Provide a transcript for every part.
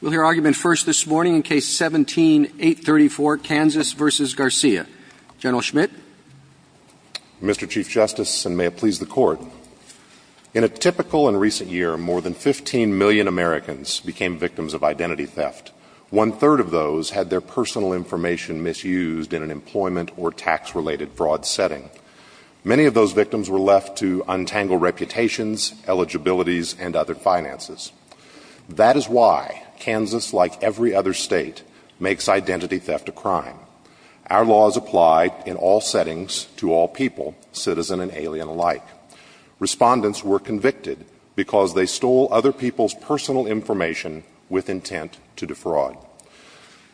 We'll hear argument first this morning in Case 17-834, Kansas v. Garcia. General Schmidt. Mr. Chief Justice, and may it please the Court, in a typical and recent year, more than 15 million Americans became victims of identity theft. One-third of those had their personal information misused in an employment or tax-related fraud setting. Many of those victims were left to untangle reputations, eligibilities, and other finances. That is why Kansas, like every other state, makes identity theft a crime. Our laws apply in all settings to all people, citizen and alien alike. Respondents were convicted because they stole other people's personal information with intent to defraud.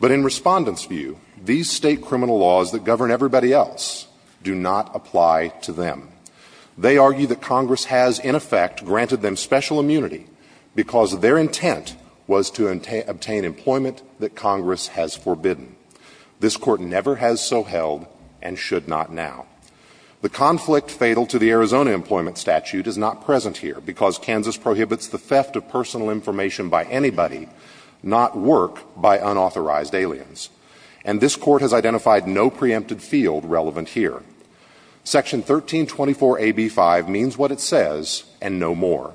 But in respondents' view, these state criminal laws that govern everybody else do not apply to them. They argue that Congress has, in effect, granted them special immunity because their intent was to obtain employment that Congress has forbidden. This Court never has so held and should not now. The conflict fatal to the Arizona Employment Statute is not present here because Kansas prohibits the theft of personal information by anybody, not work by unauthorized aliens. And this Court has identified no preempted field relevant here. Section 1324AB5 means what it says and no more.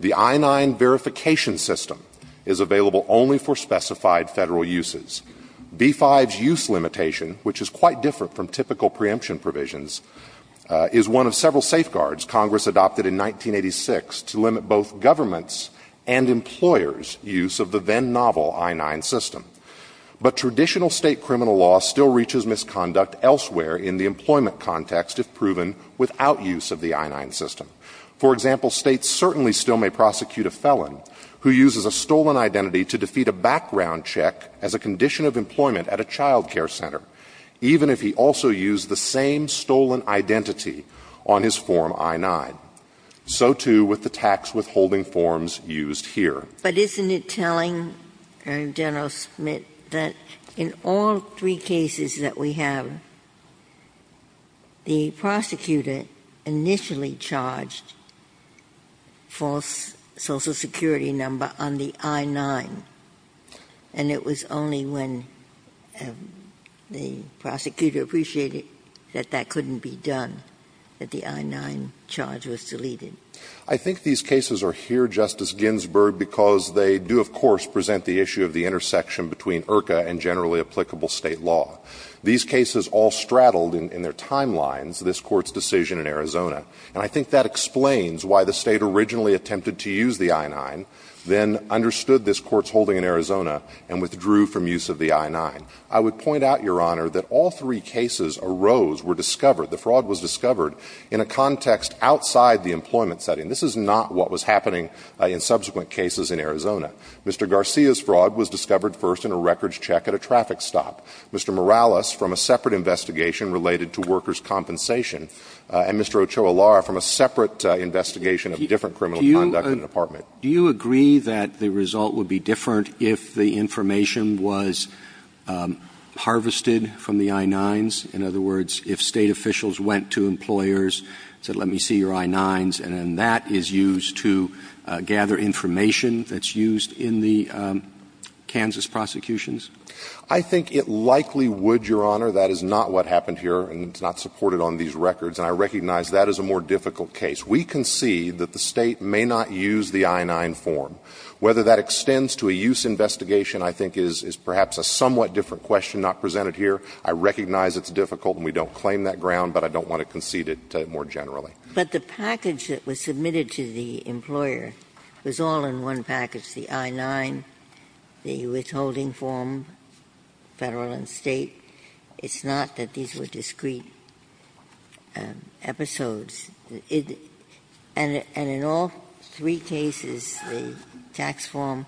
The I-9 verification system is available only for specified Federal uses. B-5's use limitation, which is quite different from typical preemption provisions, is one of several safeguards Congress adopted in 1986 to limit both governments' and employers' use of the then-novel I-9 system. But traditional state criminal law still reaches misconduct elsewhere in the employment context if proven without use of the I-9 system. For example, States certainly still may prosecute a felon who uses a stolen identity to defeat a background check as a condition of employment at a child care center, even if he also used the same stolen identity on his Form I-9. So, too, with the tax withholding forms used here. Ginsburg. But isn't it telling, General Smith, that in all three cases that we have, the prosecutor initially charged false Social Security number on the I-9, and it was only when the prosecutor appreciated that that couldn't be done that the I-9 charge was deleted? I think these cases are here, Justice Ginsburg, because they do, of course, present the issue of the intersection between IRCA and generally applicable State law. These cases all straddled in their timelines this Court's decision in Arizona. And I think that explains why the State originally attempted to use the I-9, then understood this Court's holding in Arizona, and withdrew from use of the I-9. I would point out, Your Honor, that all three cases arose, were discovered, the fraud was discovered, in a context outside the employment setting. This is not what was happening in subsequent cases in Arizona. Mr. Garcia's fraud was discovered first in a records check at a traffic stop. Mr. Morales, from a separate investigation related to workers' compensation. And Mr. Ochoa-Lara, from a separate investigation of different criminal conduct in an apartment. Do you agree that the result would be different if the information was harvested from the I-9s? In other words, if State officials went to employers and said, let me see your I-9s, and then that is used to gather information that's used in the Kansas prosecutions? I think it likely would, Your Honor. That is not what happened here, and it's not supported on these records. And I recognize that is a more difficult case. We can see that the State may not use the I-9 form. Whether that extends to a use investigation, I think, is perhaps a somewhat different question not presented here. I recognize it's difficult and we don't claim that ground, but I don't want to concede it more generally. Ginsburg. But the package that was submitted to the employer was all in one package, the I-9, the withholding form, Federal and State. It's not that these were discrete episodes. And in all three cases, the tax form,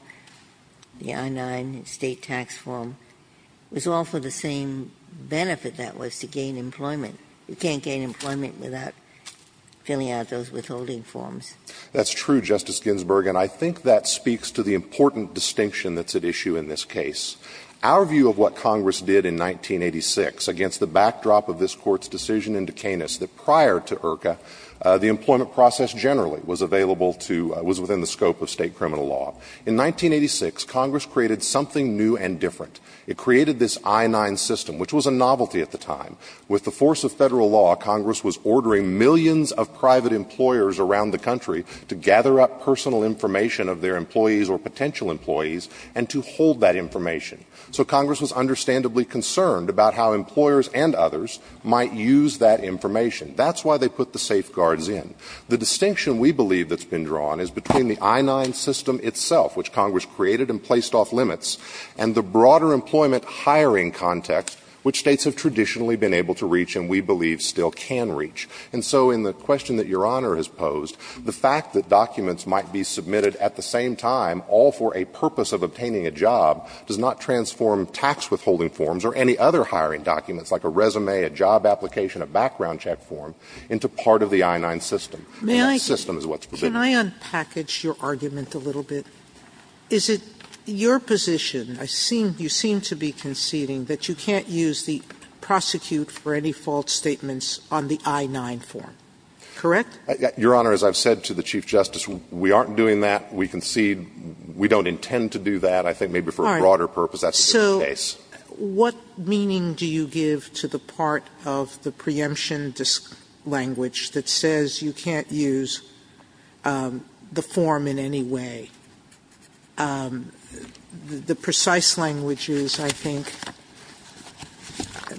the I-9, the State tax form, was all for the same benefit that was, to gain employment. You can't gain employment without filling out those withholding forms. That's true, Justice Ginsburg. And I think that speaks to the important distinction that's at issue in this case. Our view of what Congress did in 1986 against the backdrop of this Court's decision in Duquesne is that prior to IRCA, the employment process generally was available to, was within the scope of State criminal law. In 1986, Congress created something new and different. It created this I-9 system, which was a novelty at the time. With the force of Federal law, Congress was ordering millions of private employers around the country to gather up personal information of their employees or potential employees and to hold that information. So Congress was understandably concerned about how employers and others might use that information. That's why they put the safeguards in. The distinction, we believe, that's been drawn is between the I-9 system itself, which Congress created and placed off limits, and the broader employment hiring context, which States have traditionally been able to reach and we believe still can reach. And so in the question that Your Honor has posed, the fact that documents might be submitted at the same time, all for a purpose of obtaining a job, does not transform tax withholding forms or any other hiring documents, like a resume, a job application, a background check form, into part of the I-9 system. And that system is what's provided. Sotomayor, can I unpackage your argument a little bit? Is it your position, you seem to be conceding, that you can't use the prosecute for any false statements on the I-9 form, correct? Your Honor, as I've said to the Chief Justice, we aren't doing that. We concede we don't intend to do that. I think maybe for a broader purpose that's the case. Sotomayor, so what meaning do you give to the part of the preemption language that says you can't use the form in any way? The precise language is, I think,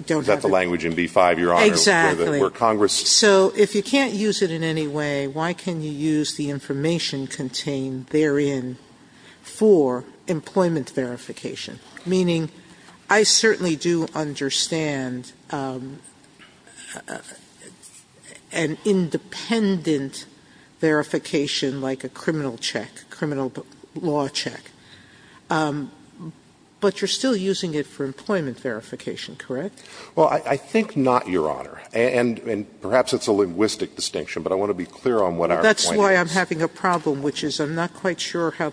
don't have it. Is that the language in B-5, Your Honor, where Congress? Exactly. So if you can't use it in any way, why can you use the information contained therein for employment verification? Meaning, I certainly do understand an independent verification like a criminal check, criminal law check. But you're still using it for employment verification, correct? Well, I think not, Your Honor. And perhaps it's a linguistic distinction, but I want to be clear on what our point That's why I'm having a problem, which is I'm not quite sure how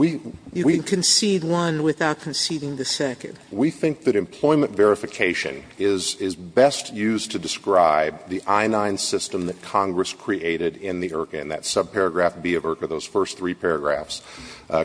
you can concede one without conceding the second. We think that employment verification is best used to describe the I-9 system that Congress created in the IRCA, in that subparagraph B of IRCA, those first three paragraphs.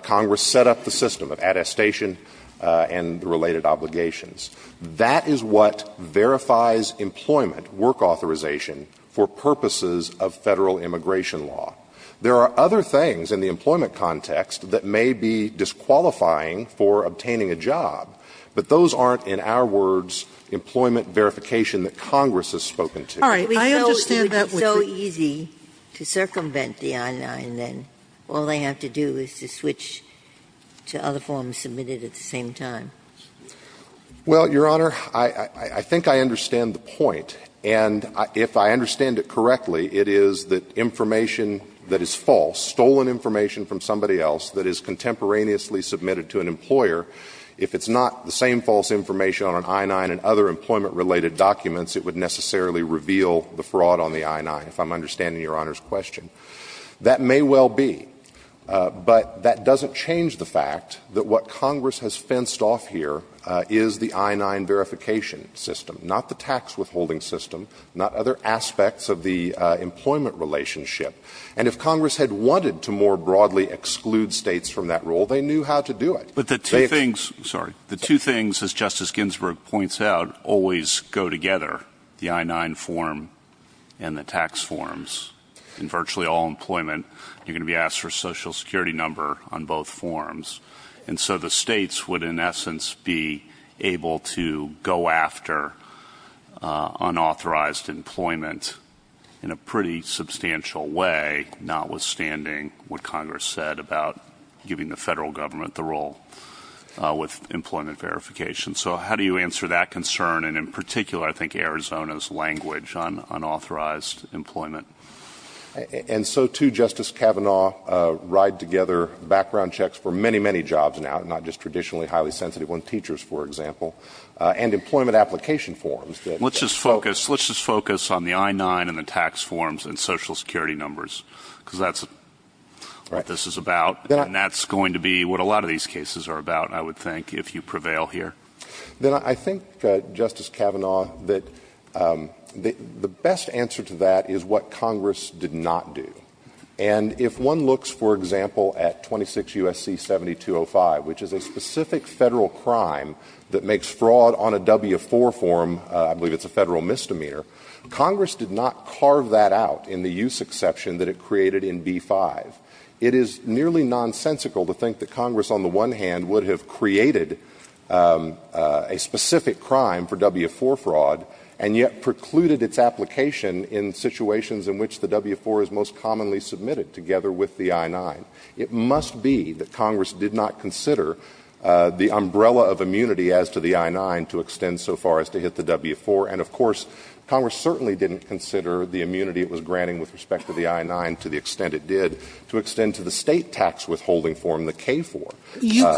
Congress set up the system of attestation and the related obligations. That is what verifies employment, work authorization, for purposes of Federal immigration law. There are other things in the employment context that may be disqualifying for obtaining a job, but those aren't, in our words, employment verification that Congress has spoken to. All right. I understand that. It would be so easy to circumvent the I-9, then all they have to do is to switch to other forms submitted at the same time. Well, Your Honor, I think I understand the point. And if I understand it correctly, it is that information that is false, stolen information from somebody else that is contemporaneously submitted to an employer, if it's not the same false information on an I-9 and other employment-related documents, it would necessarily reveal the fraud on the I-9, if I'm understanding Your Honor's question. That may well be, but that doesn't change the fact that what Congress has fenced off here is the I-9 verification system, not the tax withholding system, not other aspects of the employment relationship. And if Congress had wanted to more broadly exclude States from that role, they knew how to do it. But the two things as Justice Ginsburg points out always go together, the I-9 form and the tax forms. In virtually all employment, you're going to be asked for a Social Security number on both forms. And so the States would, in essence, be able to go after unauthorized employment in a pretty substantial way, notwithstanding what Congress said about giving the federal government the role with employment verification. So how do you answer that concern? And in particular, I think Arizona's language on unauthorized employment. And so too, Justice Kavanaugh, ride together background checks for many, many jobs now, not just traditionally highly sensitive ones, teachers, for example, and employment application forms. Let's just focus on the I-9 and the tax forms and Social Security numbers, because that's what this is about. And that's going to be what a lot of these cases are about, I would think, if you prevail here. Then I think, Justice Kavanaugh, that the best answer to that is what Congress did not do. And if one looks, for example, at 26 U.S.C. 7205, which is a specific Federal crime that makes fraud on a W-4 form, I believe it's a Federal misdemeanor, Congress did not carve that out in the use exception that it created in B-5. It is nearly nonsensical to think that Congress, on the one hand, would have created a specific crime for W-4 fraud and yet precluded its application in situations in which the W-4 is most commonly submitted together with the I-9. It must be that Congress did not consider the umbrella of immunity as to the I-9 to extend so far as to hit the W-4. And, of course, Congress certainly didn't consider the immunity it was granting with respect to the I-9 to the extent it did to extend to the State tax withholding form, the K-4. Sotomayor,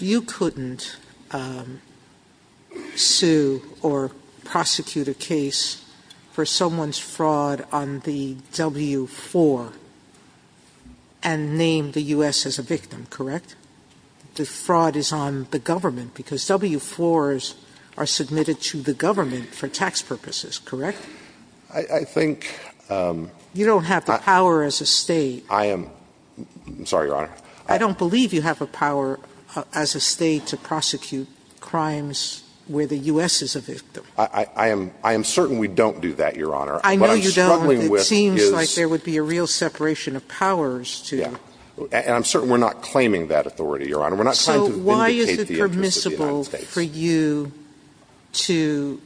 you couldn't sue or prosecute a case for someone's fraud on the W-4 and name the U.S. as a victim, correct? The fraud is on the government, because W-4s are submitted to the government for tax purposes, correct? I think you don't have the power as a State. I am sorry, Your Honor. I don't believe you have a power as a State to prosecute crimes where the U.S. is a victim. I am certain we don't do that, Your Honor. I know you don't, but it seems like there would be a real separation of powers to do that. And I'm certain we're not claiming that authority, Your Honor. We're not trying to vindicate the interests of the United States. So why is it permissible for you to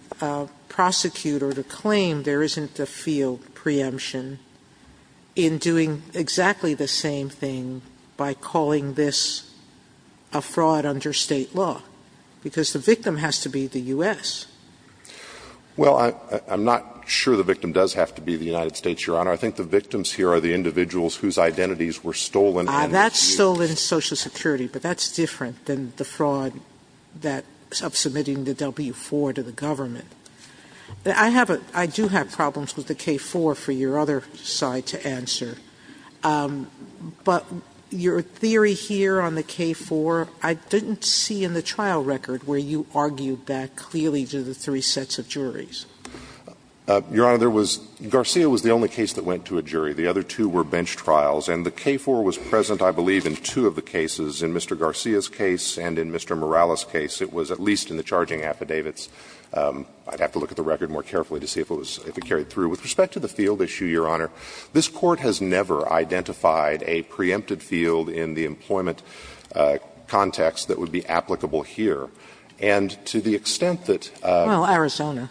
prosecute or to claim there isn't a field preemption in doing exactly the same thing by calling this a fraud under State law? Because the victim has to be the U.S. Well, I'm not sure the victim does have to be the United States, Your Honor. I think the victims here are the individuals whose identities were stolen. That's stolen Social Security, but that's different than the fraud of submitting the W-4 to the government. I have a — I do have problems with the K-4 for your other side to answer, but your theory here on the K-4, I didn't see in the trial record where you argued that clearly to the three sets of juries. Your Honor, there was — Garcia was the only case that went to a jury. The other two were bench trials. And the K-4 was present, I believe, in two of the cases, in Mr. Garcia's case and in Mr. Morales' case. It was at least in the charging affidavits. I'd have to look at the record more carefully to see if it was — if it carried through. With respect to the field issue, Your Honor, this Court has never identified a preempted field in the employment context that would be applicable here. And to the extent that — Well, Arizona.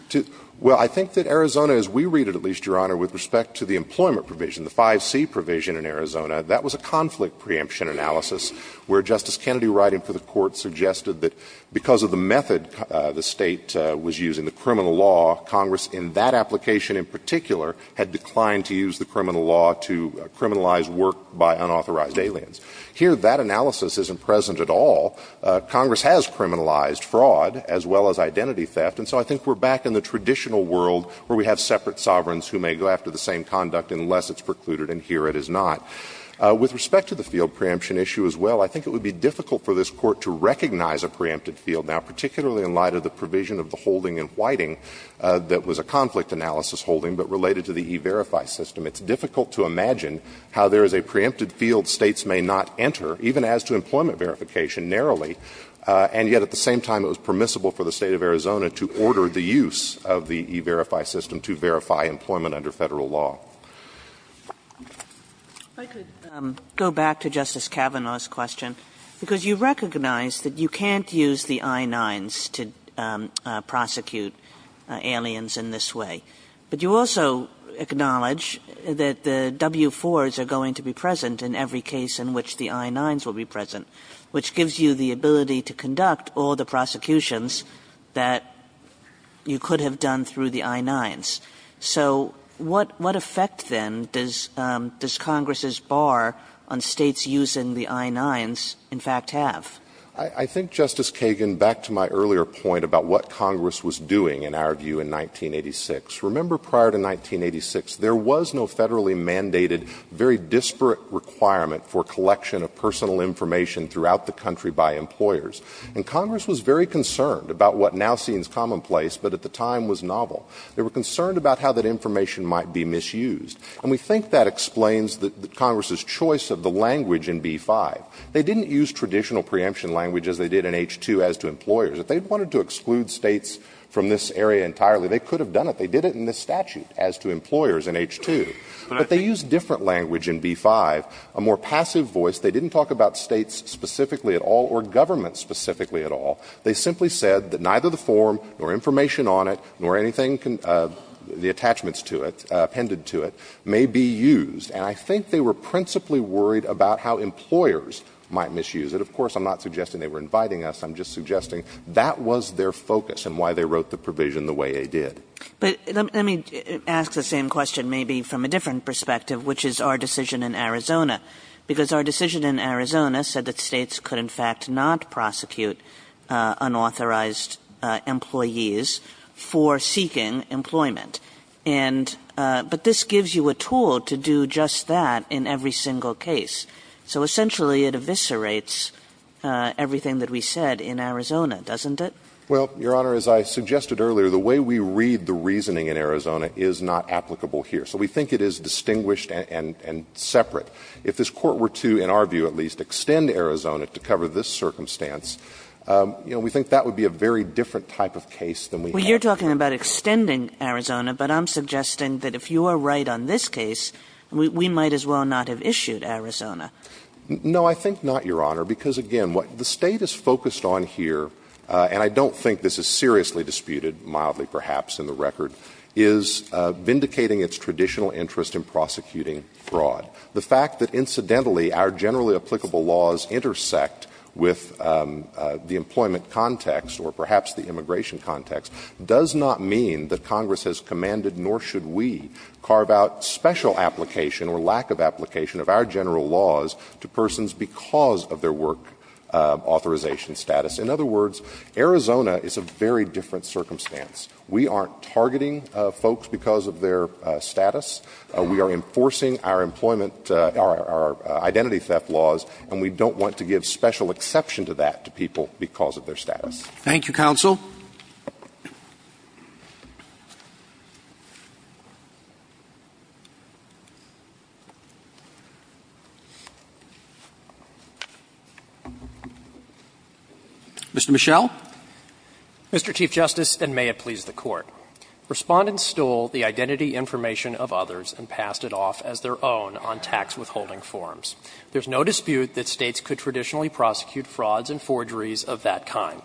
Well, I think that Arizona, as we read it at least, Your Honor, with respect to the employment provision, the 5C provision in Arizona, that was a conflict preemption analysis where Justice Kennedy writing for the Court suggested that because of the method the State was using, the criminal law, Congress in that application in particular, had declined to use the criminal law to criminalize work by unauthorized aliens. Here, that analysis isn't present at all. Congress has criminalized fraud as well as identity theft. And so I think we're back in the traditional world where we have separate sovereigns who may go after the same conduct unless it's precluded, and here it is not. With respect to the field preemption issue as well, I think it would be difficult for this Court to recognize a preempted field now, particularly in light of the provision of the holding and whiting that was a conflict analysis holding but related to the E-Verify system. It's difficult to imagine how there is a preempted field States may not enter, even as to employment verification narrowly, and yet at the same time it was permissible for the State of Arizona to order the use of the E-Verify system to verify employment under Federal law. Kagan. I could go back to Justice Kavanaugh's question. Because you recognize that you can't use the I-9s to prosecute aliens in this way. But you also acknowledge that the W-4s are going to be present in every case in which the I-9s will be present, which gives you the ability to conduct all the prosecutions that you could have done through the I-9s. So what effect, then, does Congress's bar on states using the I-9s, in fact, have? I think, Justice Kagan, back to my earlier point about what Congress was doing, in our view, in 1986. Remember, prior to 1986, there was no federally mandated, very disparate requirement for collection of personal information throughout the country by employers. And Congress was very concerned about what now seems commonplace, but at the time was novel. They were concerned about how that information might be misused. And we think that explains Congress's choice of the language in B-5. They didn't use traditional preemption language as they did in H-2 as to employers. If they wanted to exclude states from this area entirely, they could have done it. They did it in this statute as to employers in H-2. But they used different language in B-5, a more passive voice. They didn't talk about states specifically at all or government specifically at all. They simply said that neither the form nor information on it nor anything can the attachments to it, appended to it, may be used. And I think they were principally worried about how employers might misuse it. Of course, I'm not suggesting they were inviting us. I'm just suggesting that was their focus and why they wrote the provision the way they did. Kagan. But let me ask the same question maybe from a different perspective, which is our decision in Arizona, because our decision in Arizona said that states could, in fact, not prosecute unauthorized employees for seeking employment. And but this gives you a tool to do just that in every single case. So essentially, it eviscerates everything that we said in Arizona, doesn't it? Well, Your Honor, as I suggested earlier, the way we read the reasoning in Arizona is not applicable here. So we think it is distinguished and separate. But if this Court were to, in our view at least, extend Arizona to cover this circumstance, you know, we think that would be a very different type of case than we have here. Well, you're talking about extending Arizona, but I'm suggesting that if you are right on this case, we might as well not have issued Arizona. No, I think not, Your Honor, because again, what the State is focused on here, and I don't think this is seriously disputed, mildly perhaps in the record, is vindicating its traditional interest in prosecuting fraud. The fact that incidentally our generally applicable laws intersect with the employment context or perhaps the immigration context does not mean that Congress has commanded nor should we carve out special application or lack of application of our general laws to persons because of their work authorization status. In other words, Arizona is a very different circumstance. We aren't targeting folks because of their status. We are enforcing our employment or our identity theft laws, and we don't want to give special exception to that to people because of their status. Thank you, counsel. Mr. Michel. Mr. Chief Justice, and may it please the Court. Respondents stole the identity information of others and passed it off as their own on tax withholding forms. There is no dispute that States could traditionally prosecute frauds and forgeries of that kind.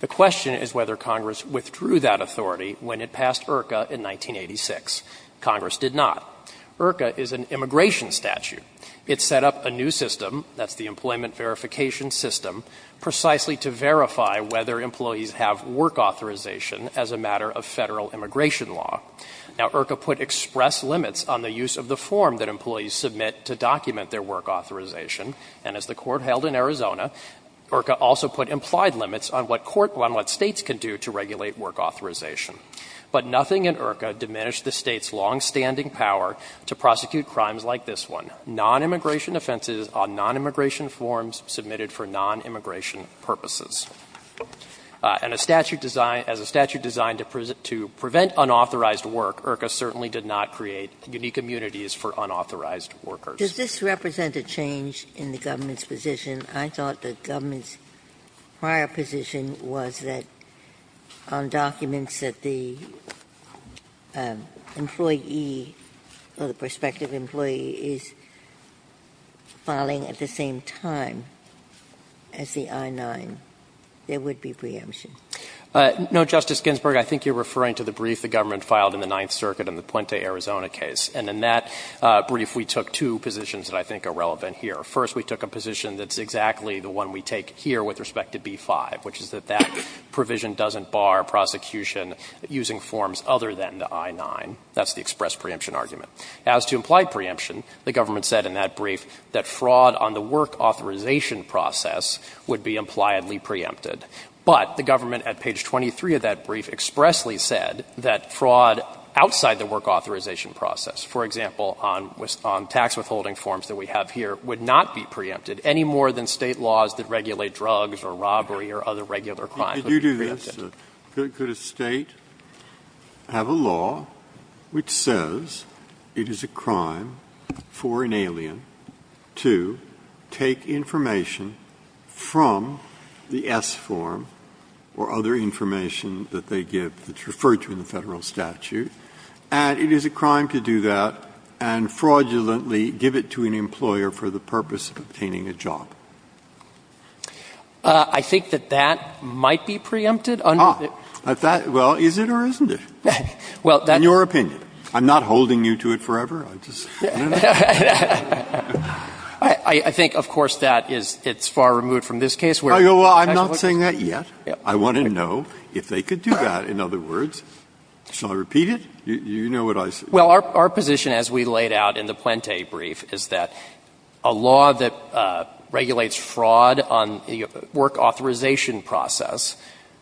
The question is whether Congress withdrew that authority when it passed IRCA in 1986. Congress did not. IRCA is an immigration statute. It set up a new system, that's the Employment Verification System, precisely to verify whether employees have work authorization as a matter of Federal immigration law. Now, IRCA put express limits on the use of the form that employees submit to document their work authorization, and as the Court held in Arizona, IRCA also put implied limits on what States can do to regulate work authorization. But nothing in IRCA diminished the States' longstanding power to prosecute crimes like this one, nonimmigration offenses on nonimmigration forms submitted for nonimmigration purposes. And a statute designed, as a statute designed to prevent unauthorized work, IRCA certainly did not create unique immunities for unauthorized workers. Ginsburg. Does this represent a change in the government's position? I thought the government's prior position was that on documents that the employee or the prospective employee is filing at the same time as the I-9, there would be preemption. No, Justice Ginsburg. I think you're referring to the brief the government filed in the Ninth Circuit in the Puente, Arizona case. And in that brief, we took two positions that I think are relevant here. First, we took a position that's exactly the one we take here with respect to B-5, which is that that provision doesn't bar prosecution using forms other than the I-9. That's the express preemption argument. As to implied preemption, the government said in that brief that fraud on the work authorization process would be impliedly preempted. But the government, at page 23 of that brief, expressly said that fraud outside the work authorization process, for example, on tax withholding forms that we have here, would not be preempted any more than State laws that regulate drugs or robbery or other regular crimes would be preempted. So could a State have a law which says it is a crime for an alien to take information from the S form or other information that they give that's referred to in the Federal statute, and it is a crime to do that and fraudulently give it to an employer for the purpose of obtaining a job? I think that that might be preempted under the ---- Breyer. Well, is it or isn't it? In your opinion. I'm not holding you to it forever. I just want to know. I think, of course, that it's far removed from this case where ---- Well, I'm not saying that yet. I want to know if they could do that. In other words, shall I repeat it? You know what I say. Well, our position as we laid out in the Puente brief is that a law that regulates fraud on the work authorization process,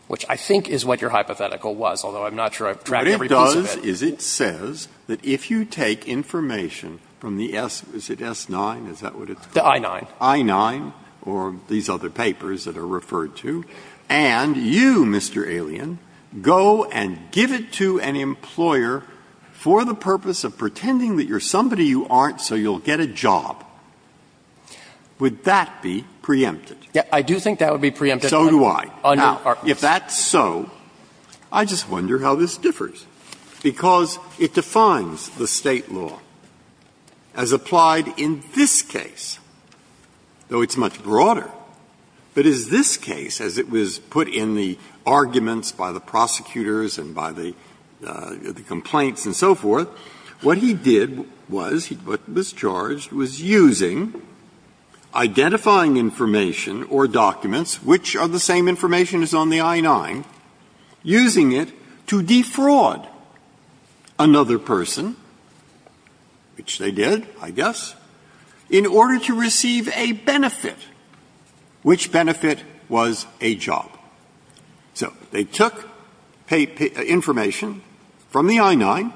which I think is what your hypothetical was, although I'm not sure I've drafted every piece of it. What it does is it says that if you take information from the S, is it S-9, is that what it's called? The I-9. I-9 or these other papers that are referred to, and you, Mr. Alien, go and give it to an employer for the purpose of pretending that you're somebody you aren't so you'll get a job, would that be preempted? I do think that would be preempted. So do I. Now, if that's so, I just wonder how this differs. Because it defines the State law as applied in this case, though it's much broader. But in this case, as it was put in the arguments by the prosecutors and by the complaints and so forth, what he did was, what was charged was using, identifying information or documents, which are the same information as on the I-9, using it to defraud another person, which they did, I guess, in order to receive a benefit. Which benefit was a job? So they took information from the I-9,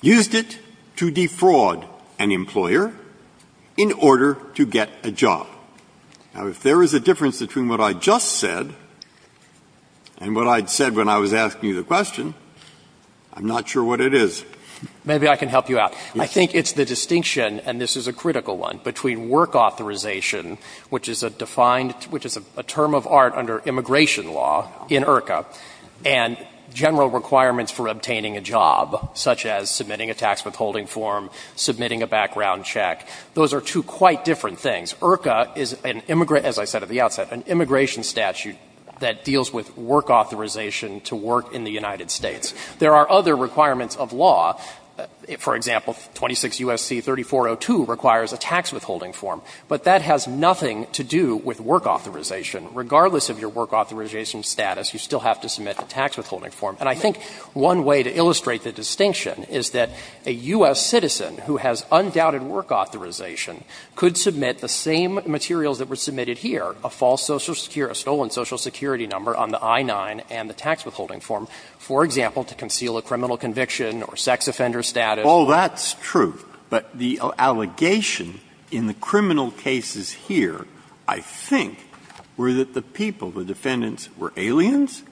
used it to defraud an employer in order to get a job. Now, if there is a difference between what I just said and what I'd said when I was asking you the question, I'm not sure what it is. Maybe I can help you out. I think it's the distinction, and this is a critical one, between work authorization, which is a defined, which is a term of art under immigration law in IRCA, and general requirements for obtaining a job, such as submitting a tax withholding form, submitting a background check. Those are two quite different things. IRCA is an immigrant, as I said at the outset, an immigration statute that deals with work authorization to work in the United States. There are other requirements of law. For example, 26 U.S.C. 3402 requires a tax withholding form. But that has nothing to do with work authorization. Regardless of your work authorization status, you still have to submit a tax withholding form. And I think one way to illustrate the distinction is that a U.S. citizen who has undoubted work authorization could submit the same materials that were submitted here, a false Social Security, a stolen Social Security number on the I-9 and the I-9 form, and they submitted it to get a job. It said nothing about they submitted it to get a job because it showed we paid taxes. It said nothing about they submitted it to get a job because it showed we paid taxes. And I think the allegation here is that the defendants were aliens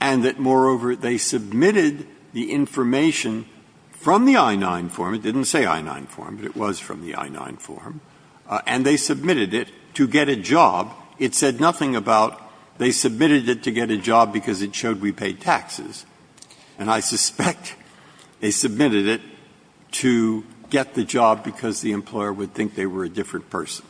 and that, moreover, they submitted the information from the I-9 form. It didn't say I-9 form, but it was from the I-9 form. And they submitted it to get a job. It said nothing about they submitted it to get a job because it showed we paid taxes. And I suspect they submitted it to get the job because the employer would think they were a different person.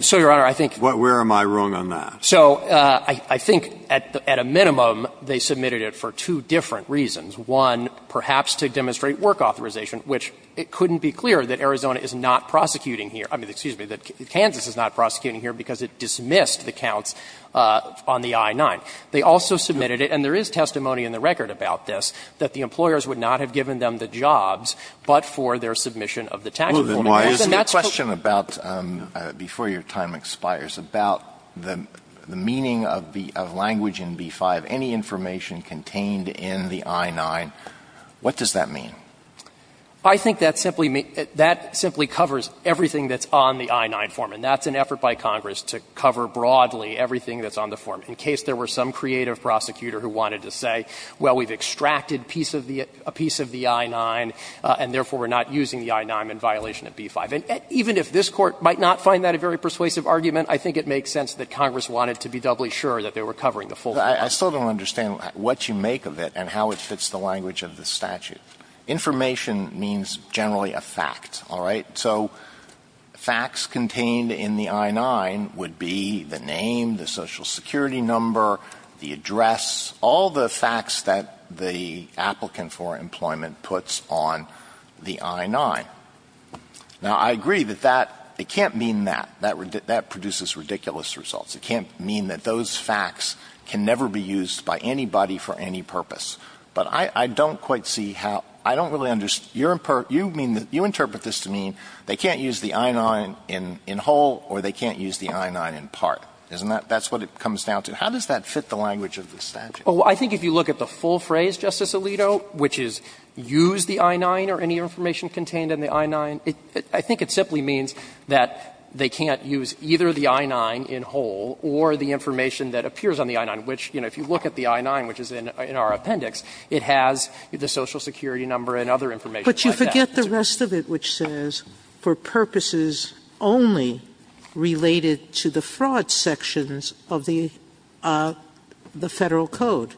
So, Your Honor, I think. Where am I wrong on that? So I think at a minimum, they submitted it for two different reasons. One, perhaps to demonstrate work authorization, which it couldn't be clearer that Arizona is not prosecuting here. I mean, excuse me, that Kansas is not prosecuting here because it dismissed the counts on the I-9. They also submitted it, and there is testimony in the record about this, that the employers would not have given them the jobs, but for their submission of the tax reform. Alitoso, before your time expires, about the meaning of language in B-5, any information contained in the I-9, what does that mean? I think that simply covers everything that's on the I-9 form, and that's an effort by Congress to cover broadly everything that's on the form, in case there were some creative prosecutor who wanted to say, well, we've extracted a piece of the I-9, and therefore, we're not using the I-9 in violation of B-5. And even if this Court might not find that a very persuasive argument, I think it makes sense that Congress wanted to be doubly sure that they were covering the full form. Alitoso, I still don't understand what you make of it and how it fits the language of the statute. Information means generally a fact, all right? So facts contained in the I-9 would be the name, the Social Security number, the address, all the facts that the applicant for employment puts on the I-9. Now, I agree that that — it can't mean that. That produces ridiculous results. It can't mean that those facts can never be used by anybody for any purpose. But I don't quite see how — I don't really understand. You interpret this to mean they can't use the I-9 in whole or they can't use the I-9 in part, isn't that? That's what it comes down to. How does that fit the language of the statute? Oh, I think if you look at the full phrase, Justice Alito, which is, use the I-9 or any information contained in the I-9, I think it simply means that they can't use either the I-9 in whole or the information that appears on the I-9, which, you know, if you look at the I-9, which is in our appendix, it has the Social Security number and other information like that. But you forget the rest of it, which says, for purposes only related to the fraud sections of the Federal Code.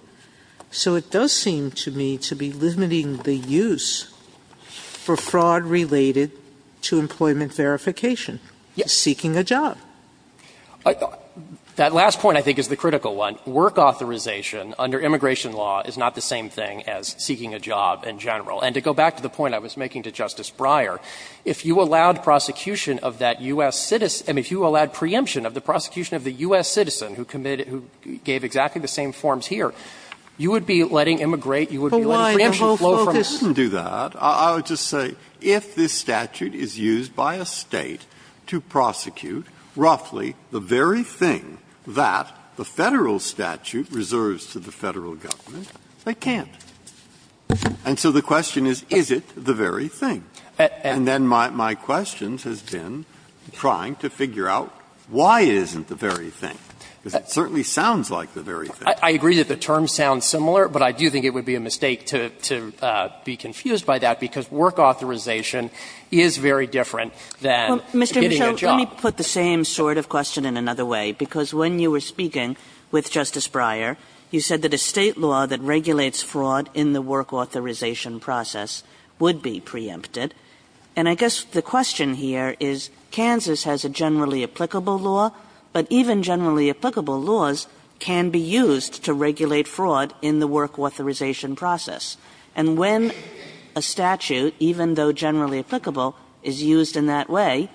So it does seem to me to be limiting the use for fraud related to employment verification, seeking a job. That last point, I think, is the critical one. Work authorization under immigration law is not the same thing as seeking a job in general. And to go back to the point I was making to Justice Breyer, if you allowed prosecution of that U.S. citizen or if you allowed preemption of the prosecution of the U.S. citizen who committed, who gave exactly the same forms here, you would be letting immigrate, you would be letting preemption flow from the State. Breyer, I would just say, if this statute is used by a State to prosecute roughly the very thing that the Federal statute reserves to the Federal government, they can't. And so the question is, is it the very thing? And then my question has been trying to figure out why it isn't the very thing, because it certainly sounds like the very thing. I agree that the terms sound similar, but I do think it would be a mistake to be confused Let me put the same sort of question in another way, because when you were speaking with Justice Breyer, you said that a State law that regulates fraud in the work authorization process would be preempted. And I guess the question here is, Kansas has a generally applicable law, but even generally applicable laws can be used to regulate fraud in the work authorization process. And when a statute, even though generally applicable, is used in that way,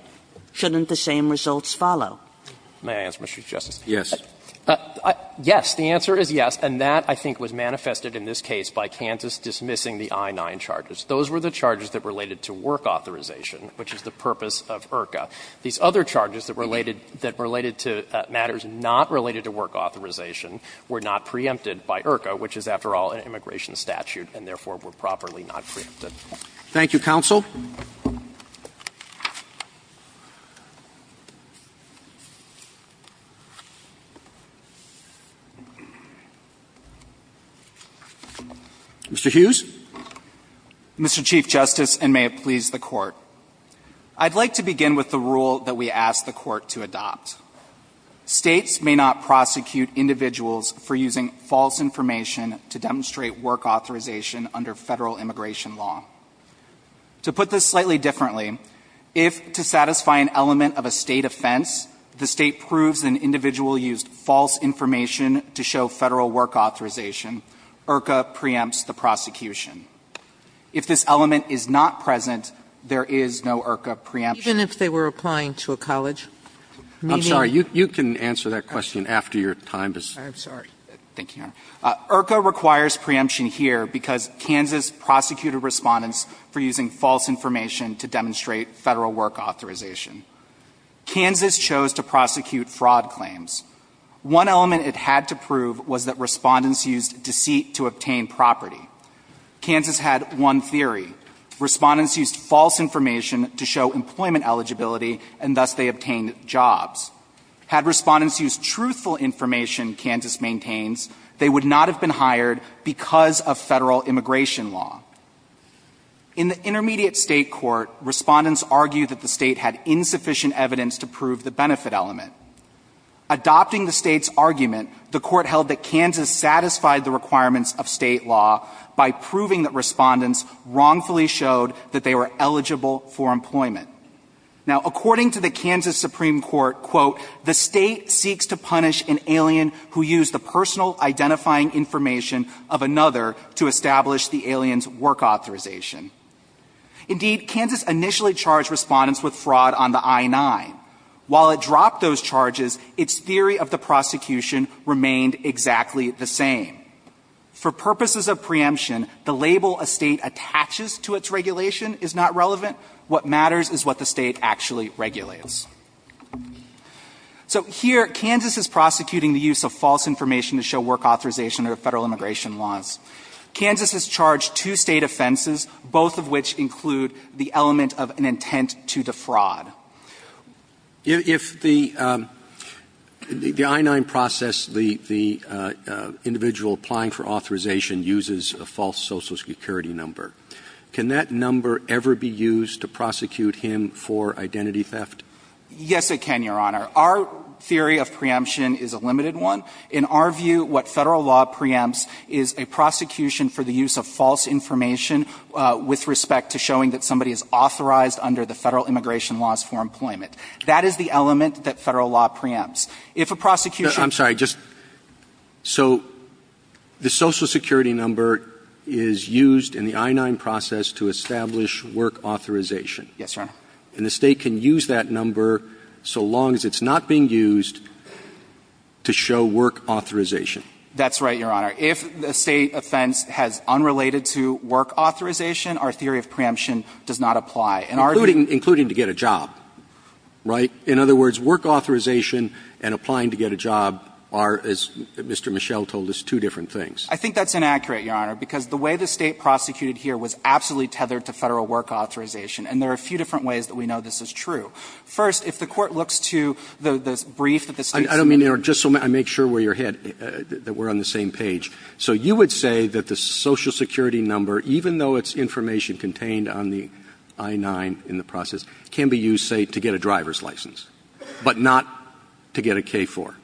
shouldn't the same results follow? May I answer, Mr. Chief Justice? Yes. Yes, the answer is yes, and that, I think, was manifested in this case by Kansas dismissing the I-9 charges. Those were the charges that related to work authorization, which is the purpose of IRCA. These other charges that related to matters not related to work authorization were not preempted by IRCA, which is, after all, an immigration statute, and therefore were properly not preempted. Thank you, counsel. Mr. Hughes. Mr. Chief Justice, and may it please the Court. I'd like to begin with the rule that we ask the Court to adopt. States may not prosecute individuals for using false information to demonstrate work authorization under Federal immigration law. To put this slightly differently, if, to satisfy an element of a State offense, the State proves an individual used false information to show Federal work authorization, IRCA preempts the prosecution. If this element is not present, there is no IRCA preemption. Even if they were applying to a college? I'm sorry, you can answer that question after your time is up. I'm sorry. Thank you, Your Honor. IRCA requires preemption here because Kansas prosecuted respondents for using false information to demonstrate Federal work authorization. Kansas chose to prosecute fraud claims. One element it had to prove was that respondents used deceit to obtain property. Kansas had one theory. Respondents used false information to show employment eligibility, and thus they obtained jobs. Had respondents used truthful information, Kansas maintains, they would not have been hired because of Federal immigration law. In the intermediate State court, respondents argued that the State had insufficient evidence to prove the benefit element. Adopting the State's argument, the Court held that Kansas satisfied the requirements of State law by proving that respondents wrongfully showed that they were eligible for employment. Now, according to the Kansas Supreme Court, quote, the State seeks to punish an alien who used the personal identifying information of another to establish the alien's work authorization. Indeed, Kansas initially charged respondents with fraud on the I-9. While it dropped those charges, its theory of the prosecution remained exactly the same. For purposes of preemption, the label a State attaches to its regulation is not relevant. What matters is what the State actually regulates. So here, Kansas is prosecuting the use of false information to show work authorization under Federal immigration laws. Kansas has charged two State offenses, both of which include the element of an intent to defraud. Roberts. If the I-9 process, the individual applying for authorization uses a false social security number, can that number ever be used to prosecute him for identity theft? Yes, it can, Your Honor. Our theory of preemption is a limited one. In our view, what Federal law preempts is a prosecution for the use of false information with respect to showing that somebody is authorized under the Federal immigration laws for employment. That is the element that Federal law preempts. If a prosecution ---- I'm sorry. Just so the social security number is used in the I-9 process to establish work authorization. Yes, Your Honor. And the State can use that number so long as it's not being used to show work authorization. That's right, Your Honor. If the State offense has unrelated to work authorization, our theory of preemption does not apply. In our view ---- Including to get a job, right? In other words, work authorization and applying to get a job are, as Mr. Mischel told us, two different things. I think that's inaccurate, Your Honor, because the way the State prosecuted here was absolutely tethered to Federal work authorization, and there are a few different ways that we know this is true. First, if the Court looks to the brief that the State sent to me ---- I don't mean to interrupt. Just so I make sure we're on the same page. So you would say that the social security number, even though it's information contained on the I-9 in the process, can be used, say, to get a driver's license, but not to get a K-4?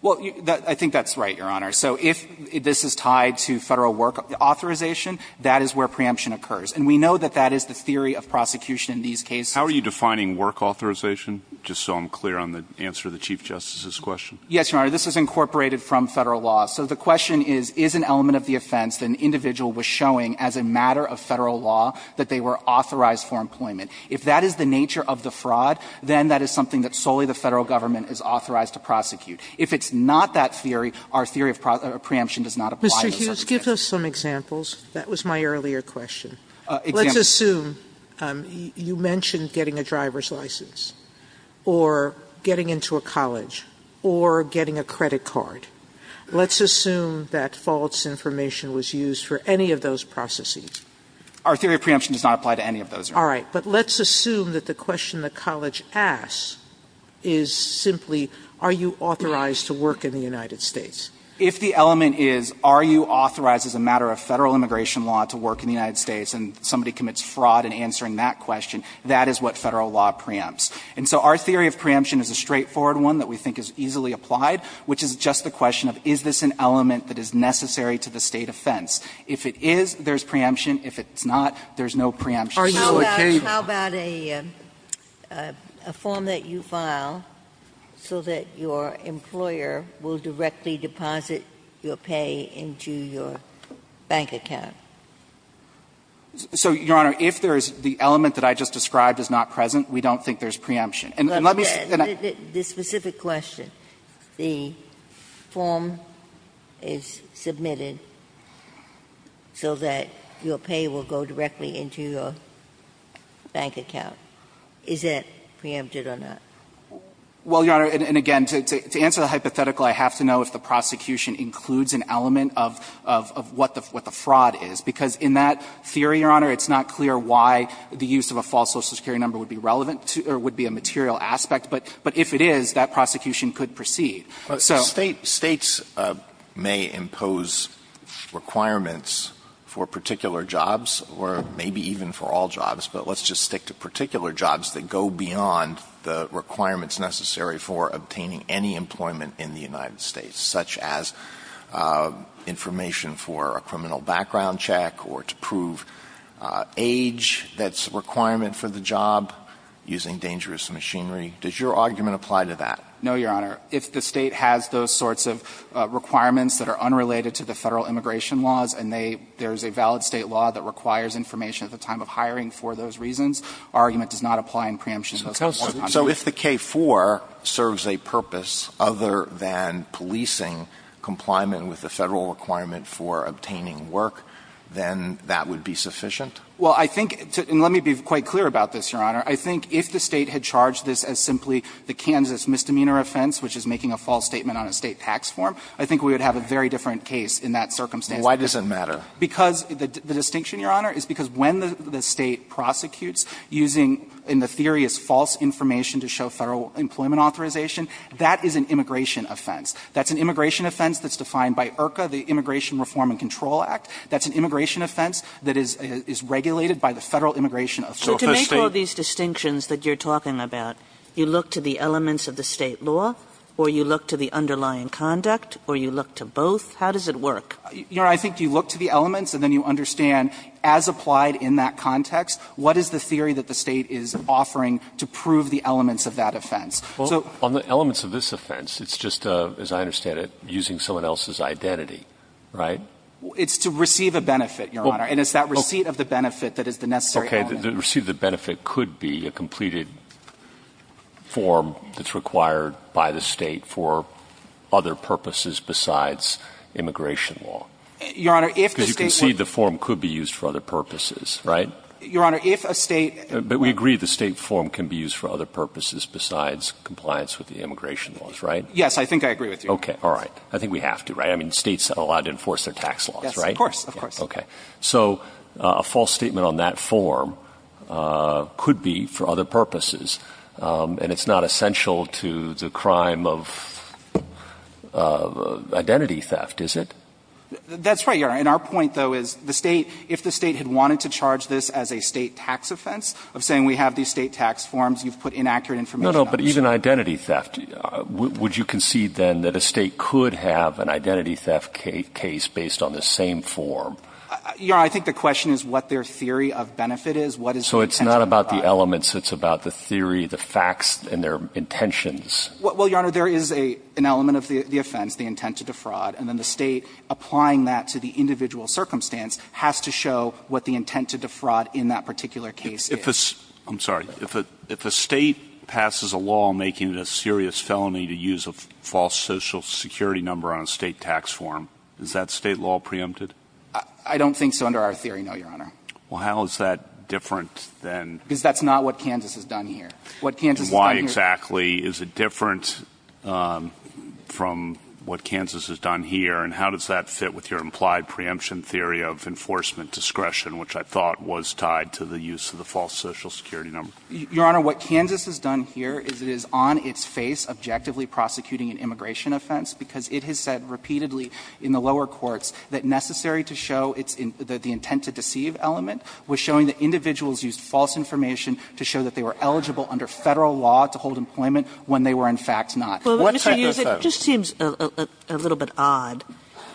Well, I think that's right, Your Honor. So if this is tied to Federal work authorization, that is where preemption occurs. And we know that that is the theory of prosecution in these cases. How are you defining work authorization, just so I'm clear on the answer to the Chief Justice's question? Yes, Your Honor. This is incorporated from Federal law. So the question is, is an element of the offense that an individual was showing as a matter of Federal law that they were authorized for employment. If that is the nature of the fraud, then that is something that solely the Federal government is authorized to prosecute. If it's not that theory, our theory of preemption does not apply in those circumstances. Sotomayor, give us some examples. That was my earlier question. Let's assume you mentioned getting a driver's license, or getting into a college, or getting a credit card. Let's assume that false information was used for any of those processes. Our theory of preemption does not apply to any of those. All right. But let's assume that the question the college asks is simply, are you authorized to work in the United States? If the element is, are you authorized as a matter of Federal immigration law to work in the United States, and somebody commits fraud in answering that question, that is what Federal law preempts. And so our theory of preemption is a straightforward one that we think is easily applied, which is just the question of is this an element that is necessary to the State offense. If it is, there is preemption. If it's not, there is no preemption. Sotomayor, how about a form that you file so that your employer will directly deposit your pay into your bank account? So, Your Honor, if there is the element that I just described is not present, we don't think there is preemption. And let me say that I don't think there is preemption. If the question, the form is submitted so that your pay will go directly into your bank account, is that preempted or not? Well, Your Honor, and again, to answer the hypothetical, I have to know if the prosecution includes an element of what the fraud is, because in that theory, Your Honor, it's not clear why the use of a false Social Security number would be relevant to or would be a material aspect. But if it is, that prosecution could proceed. So the State's may impose requirements for particular jobs or maybe even for all jobs, but let's just stick to particular jobs that go beyond the requirements necessary for obtaining any employment in the United States, such as information for a criminal background check or to prove age that's a requirement for the job, using dangerous machinery, does your argument apply to that? No, Your Honor. If the State has those sorts of requirements that are unrelated to the Federal immigration laws and they – there is a valid State law that requires information at the time of hiring for those reasons, our argument does not apply in preemption of those requirements. So if the K-4 serves a purpose other than policing, compliment with the Federal requirement for obtaining work, then that would be sufficient? Well, I think – and let me be quite clear about this, Your Honor. I think if the State had charged this as simply the Kansas misdemeanor offense, which is making a false statement on a State tax form, I think we would have a very different case in that circumstance. Why does it matter? Because the distinction, Your Honor, is because when the State prosecutes using, in the theory, is false information to show Federal employment authorization, that is an immigration offense. That's an immigration offense that's defined by IRCA, the Immigration Reform and Control Act. That's an immigration offense that is regulated by the Federal immigration authority. So to make all these distinctions that you're talking about, you look to the elements of the State law, or you look to the underlying conduct, or you look to both, how does it work? Your Honor, I think you look to the elements and then you understand, as applied in that context, what is the theory that the State is offering to prove the elements of that offense. So the elements of this offense, it's just, as I understand it, using someone else's identity, right? It's to receive a benefit, Your Honor, and it's that receipt of the benefit that is the necessary element. Okay. The receipt of the benefit could be a completed form that's required by the State for other purposes besides immigration law. Your Honor, if the State would be used for other purposes, Your Honor, if a State But we agree the State form can be used for other purposes besides compliance with the immigration laws, right? Yes, I think I agree with you. Okay. All right. I think we have to, right? I mean, States are allowed to enforce their tax laws, right? Yes, of course. Of course. Okay. So a false statement on that form could be for other purposes, and it's not essential to the crime of identity theft, is it? That's right, Your Honor. And our point, though, is the State, if the State had wanted to charge this as a State tax offense of saying we have these State tax forms, you've put inaccurate information on it. No, no, but even identity theft, would you concede then that a State could have an identity theft case based on the same form? Your Honor, I think the question is what their theory of benefit is, what is the intent of the crime? So it's not about the elements, it's about the theory, the facts, and their intentions. Well, Your Honor, there is an element of the offense, the intent to defraud, and then the State applying that to the individual circumstance has to show what the intent to defraud in that particular case is. If a State passes a law making it a serious felony to use a false Social Security number on a State tax form, is that State law preempted? I don't think so, under our theory, no, Your Honor. Well, how is that different than — Because that's not what Kansas has done here. What Kansas has done here — And why exactly is it different from what Kansas has done here? And how does that fit with your implied preemption theory of enforcement discretion, which I thought was tied to the use of the false Social Security number? Your Honor, what Kansas has done here is it is on its face objectively prosecuting an immigration offense because it has said repeatedly in the lower courts that the intent to deceive element was showing that individuals used false information to show that they were eligible under Federal law to hold employment when they were, in fact, not. What type of — Well, Mr. Yu, it just seems a little bit odd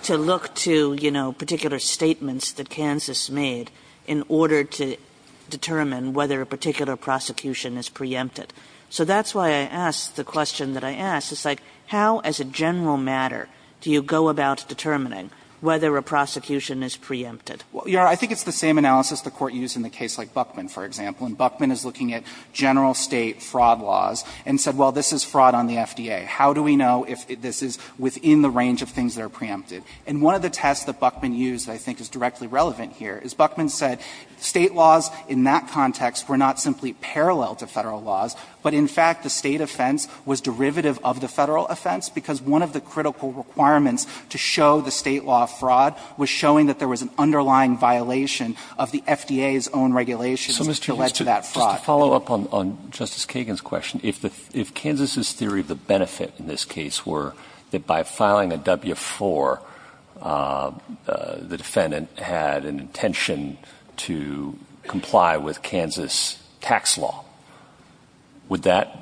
to look to, you know, particular statements that Kansas made in order to determine whether a particular prosecution is preempted. So that's why I ask the question that I ask. It's like how, as a general matter, do you go about determining whether a prosecution is preempted? Your Honor, I think it's the same analysis the Court used in the case like Buckman, for example. And Buckman is looking at general State fraud laws and said, well, this is fraud on the FDA. How do we know if this is within the range of things that are preempted? And one of the tests that Buckman used that I think is directly relevant here is Buckman said State laws in that context were not simply parallel to Federal laws, but in fact, the State offense was derivative of the Federal offense, because one of the critical requirements to show the State law fraud was showing that there was an underlying violation of the FDA's own regulations that led to that fraud. So, Mr. Yu, just to follow up on Justice Kagan's question, if Kansas' theory of the benefit in this case were that by filing a W-4, the defendant had an intention to comply with Kansas' tax law, would that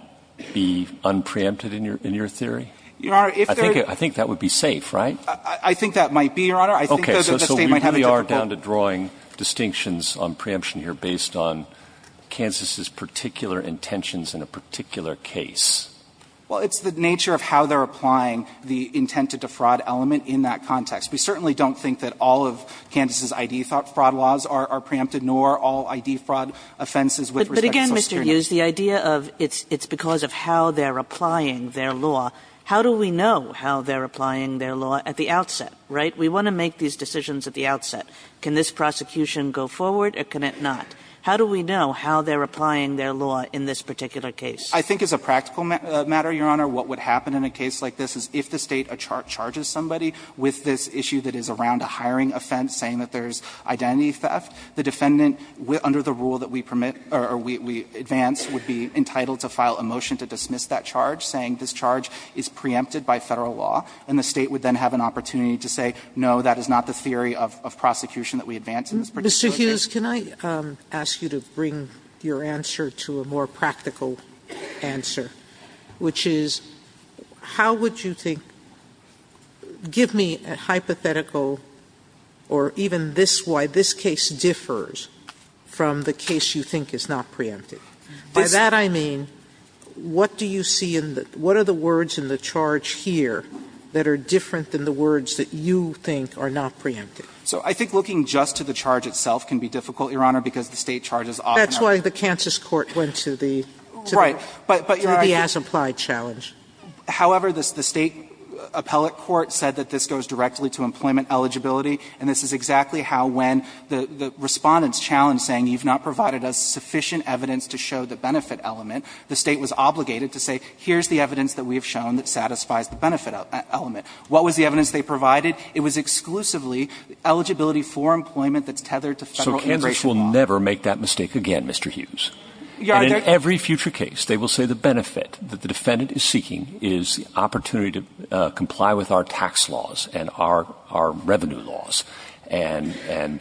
be unpreempted in your theory? I think that would be safe, right? I think that might be, Your Honor. I think that the State might have a difficult one. Okay. So we are down to drawing distinctions on preemption here based on Kansas' particular intentions in a particular case. Well, it's the nature of how they're applying the intent to defraud element in that context. We certainly don't think that all of Kansas' I.D. fraud laws are preempted, nor all I.D. fraud offenses with respect to Social Security. But again, Mr. Yu, the idea of it's because of how they're applying their law. How do we know how they're applying their law at the outset, right? We want to make these decisions at the outset. Can this prosecution go forward or can it not? How do we know how they're applying their law in this particular case? I think as a practical matter, Your Honor, what would happen in a case like this is if the State charges somebody with this issue that is around a hiring offense, saying that there's identity theft, the defendant, under the rule that we permit or we advance, would be entitled to file a motion to dismiss that charge, saying this charge is preempted by Federal law. And the State would then have an opportunity to say, no, that is not the theory of prosecution that we advance in this particular case. Sotomayor, Mr. Hughes, can I ask you to bring your answer to a more practical answer, which is, how would you think – give me a hypothetical or even this, why this case differs from the case you think is not preempted. By that I mean, what do you see in the – what are the words in the charge here that are different than the words that you think are not preempted? So I think looking just to the charge itself can be difficult, Your Honor, because the State charges often are preempted. Sotomayor, that's why the Kansas court went to the – to the as-applied challenge. However, the State appellate court said that this goes directly to employment eligibility, and this is exactly how, when the Respondent's challenge saying you've not provided us sufficient evidence to show the benefit element, the State was obligated to say, here's the evidence that we have shown that satisfies the benefit element. What was the evidence they provided? It was exclusively eligibility for employment that's tethered to Federal immigration law. And judges will never make that mistake again, Mr. Hughes. And in every future case, they will say the benefit that the Defendant is seeking is the opportunity to comply with our tax laws and our – our revenue laws, and – and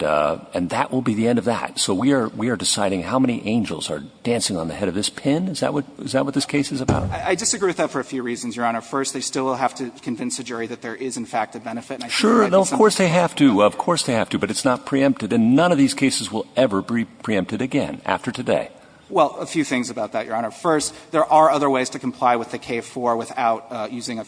that will be the end of that. So we are – we are deciding how many angels are dancing on the head of this pin? Is that what – is that what this case is about? I disagree with that for a few reasons, Your Honor. First, they still will have to convince the jury that there is, in fact, a benefit. And I think that's something that's – Sure. No, of course they have to. Of course they have to. But it's not preempted. And none of these cases will ever be preempted again after today. Well, a few things about that, Your Honor. First, there are other ways to comply with the K-4 without using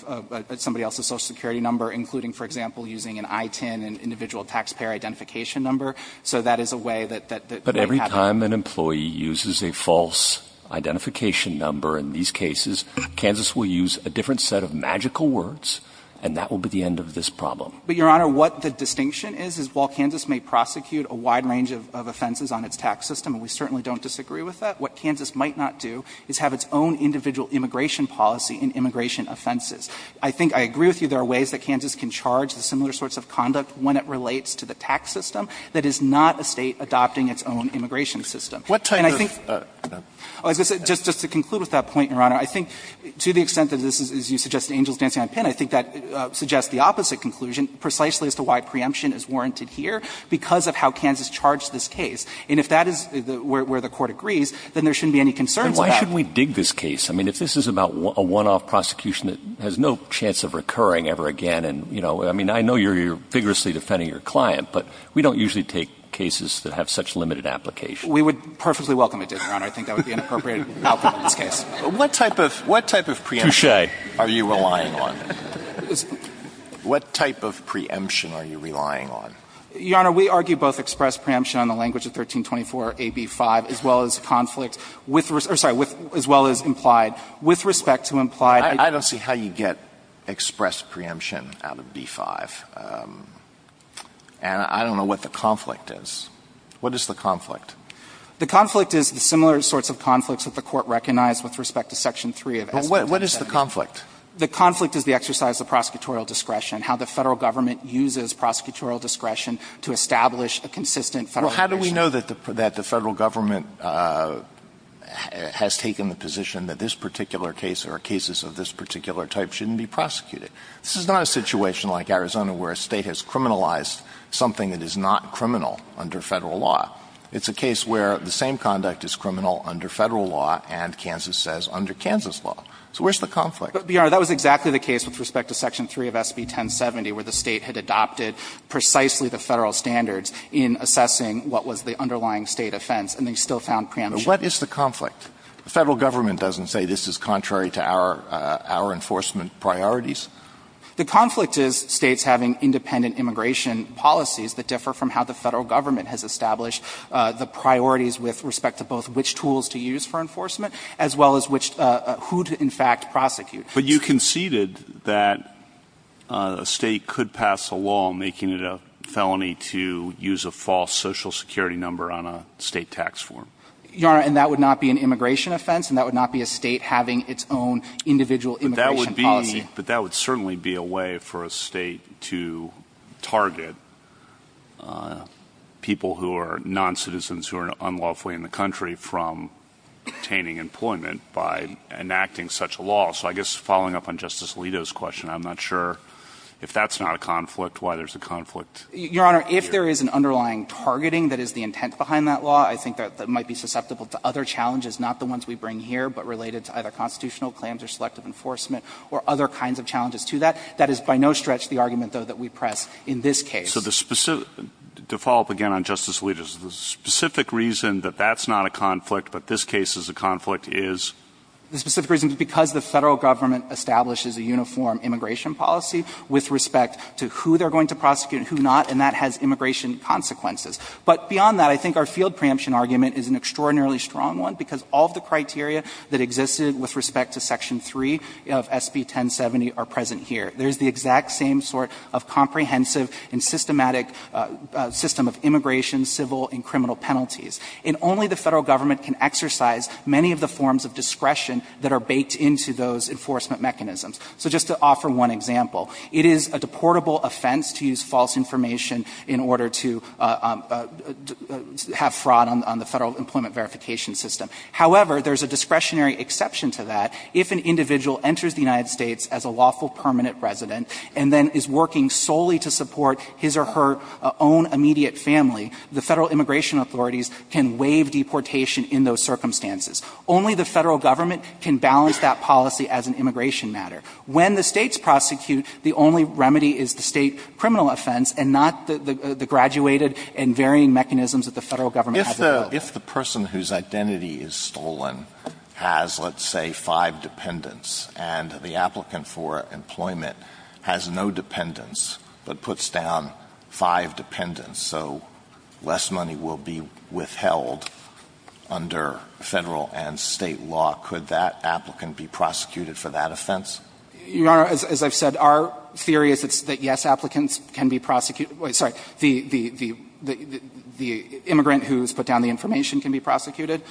somebody else's Social Security number, including, for example, using an I-10, an individual taxpayer identification number. So that is a way that – that might happen. But every time an employee uses a false identification number in these cases, Kansas will use a different set of magical words, and that will be the end of this problem. But, Your Honor, what the distinction is, is while Kansas may prosecute a wide range of offenses on its tax system, and we certainly don't disagree with that, what Kansas might not do is have its own individual immigration policy in immigration offenses. I think – I agree with you there are ways that Kansas can charge the similar sorts of conduct when it relates to the tax system that is not a State adopting its own immigration system. And I think – What type of – Just to conclude with that point, Your Honor, I think to the extent that this is, as you suggested, angels dancing on a pin, I think that suggests the opposite conclusion precisely as to why preemption is warranted here because of how Kansas charged this case. And if that is where the Court agrees, then there shouldn't be any concerns about – But why shouldn't we dig this case? I mean, if this is about a one-off prosecution that has no chance of recurring ever again, and, you know, I mean, I know you're vigorously defending your client, but we don't usually take cases that have such limited application. We would perfectly welcome a dig, Your Honor. I think that would be an appropriate outcome in this case. What type of – what type of preemption are you relying on? What type of preemption are you relying on? Your Honor, we argue both express preemption on the language of 1324a)(b)(5), as well as conflict with – or, sorry, with – as well as implied – with respect to implied – I don't see how you get express preemption out of b)(5), and I don't know what the conflict is. What is the conflict? The conflict is the similar sorts of conflicts that the Court recognized with respect to section 3 of SB 1270. But what is the conflict? The conflict is the exercise of prosecutorial discretion, how the Federal Government uses prosecutorial discretion to establish a consistent Federal discretion. Well, how do we know that the Federal Government has taken the position that this particular case or cases of this particular type shouldn't be prosecuted? This is not a situation like Arizona, where a State has criminalized something that is not criminal under Federal law. It's a case where the same conduct is criminal under Federal law and, Kansas says, under Kansas law. So where's the conflict? But, Your Honor, that was exactly the case with respect to section 3 of SB 1070, where the State had adopted precisely the Federal standards in assessing what was the underlying State offense, and they still found preemption. But what is the conflict? The Federal Government doesn't say this is contrary to our – our enforcement priorities. The conflict is States having independent immigration policies that differ from how the Federal Government has established the priorities with respect to both which act prosecute. But you conceded that a State could pass a law making it a felony to use a false Social Security number on a State tax form. Your Honor, and that would not be an immigration offense, and that would not be a State having its own individual immigration policy. But that would be – but that would certainly be a way for a State to target people who are noncitizens who are unlawfully in the country from obtaining employment by enacting such a law. So I guess following up on Justice Alito's question, I'm not sure if that's not a conflict, why there's a conflict here. Your Honor, if there is an underlying targeting that is the intent behind that law, I think that might be susceptible to other challenges, not the ones we bring here, but related to either constitutional claims or selective enforcement or other kinds of challenges to that. That is by no stretch the argument, though, that we press in this case. So the – to follow up again on Justice Alito's, the specific reason that that's a conflict is? The specific reason is because the Federal Government establishes a uniform immigration policy with respect to who they're going to prosecute and who not, and that has immigration consequences. But beyond that, I think our field preemption argument is an extraordinarily strong one because all of the criteria that existed with respect to Section 3 of SB 1070 are present here. There's the exact same sort of comprehensive and systematic system of immigration, civil and criminal penalties. And only the Federal Government can exercise many of the forms of discretion that are baked into those enforcement mechanisms. So just to offer one example, it is a deportable offense to use false information in order to have fraud on the Federal Employment Verification System. However, there's a discretionary exception to that. If an individual enters the United States as a lawful permanent resident and then is working solely to support his or her own immediate family, the Federal Immigration Authorities can waive deportation in those circumstances. Only the Federal Government can balance that policy as an immigration matter. When the States prosecute, the only remedy is the State criminal offense and not the graduated and varying mechanisms that the Federal Government has in place. Alito, if the person whose identity is stolen has, let's say, five dependents and the applicant for employment has no dependents but puts down five dependents, so less money will be withheld under Federal and State law, could that applicant be prosecuted for that offense? Your Honor, as I've said, our theory is that yes, applicants can be prosecuted – sorry, the immigrant who's put down the information can be prosecuted.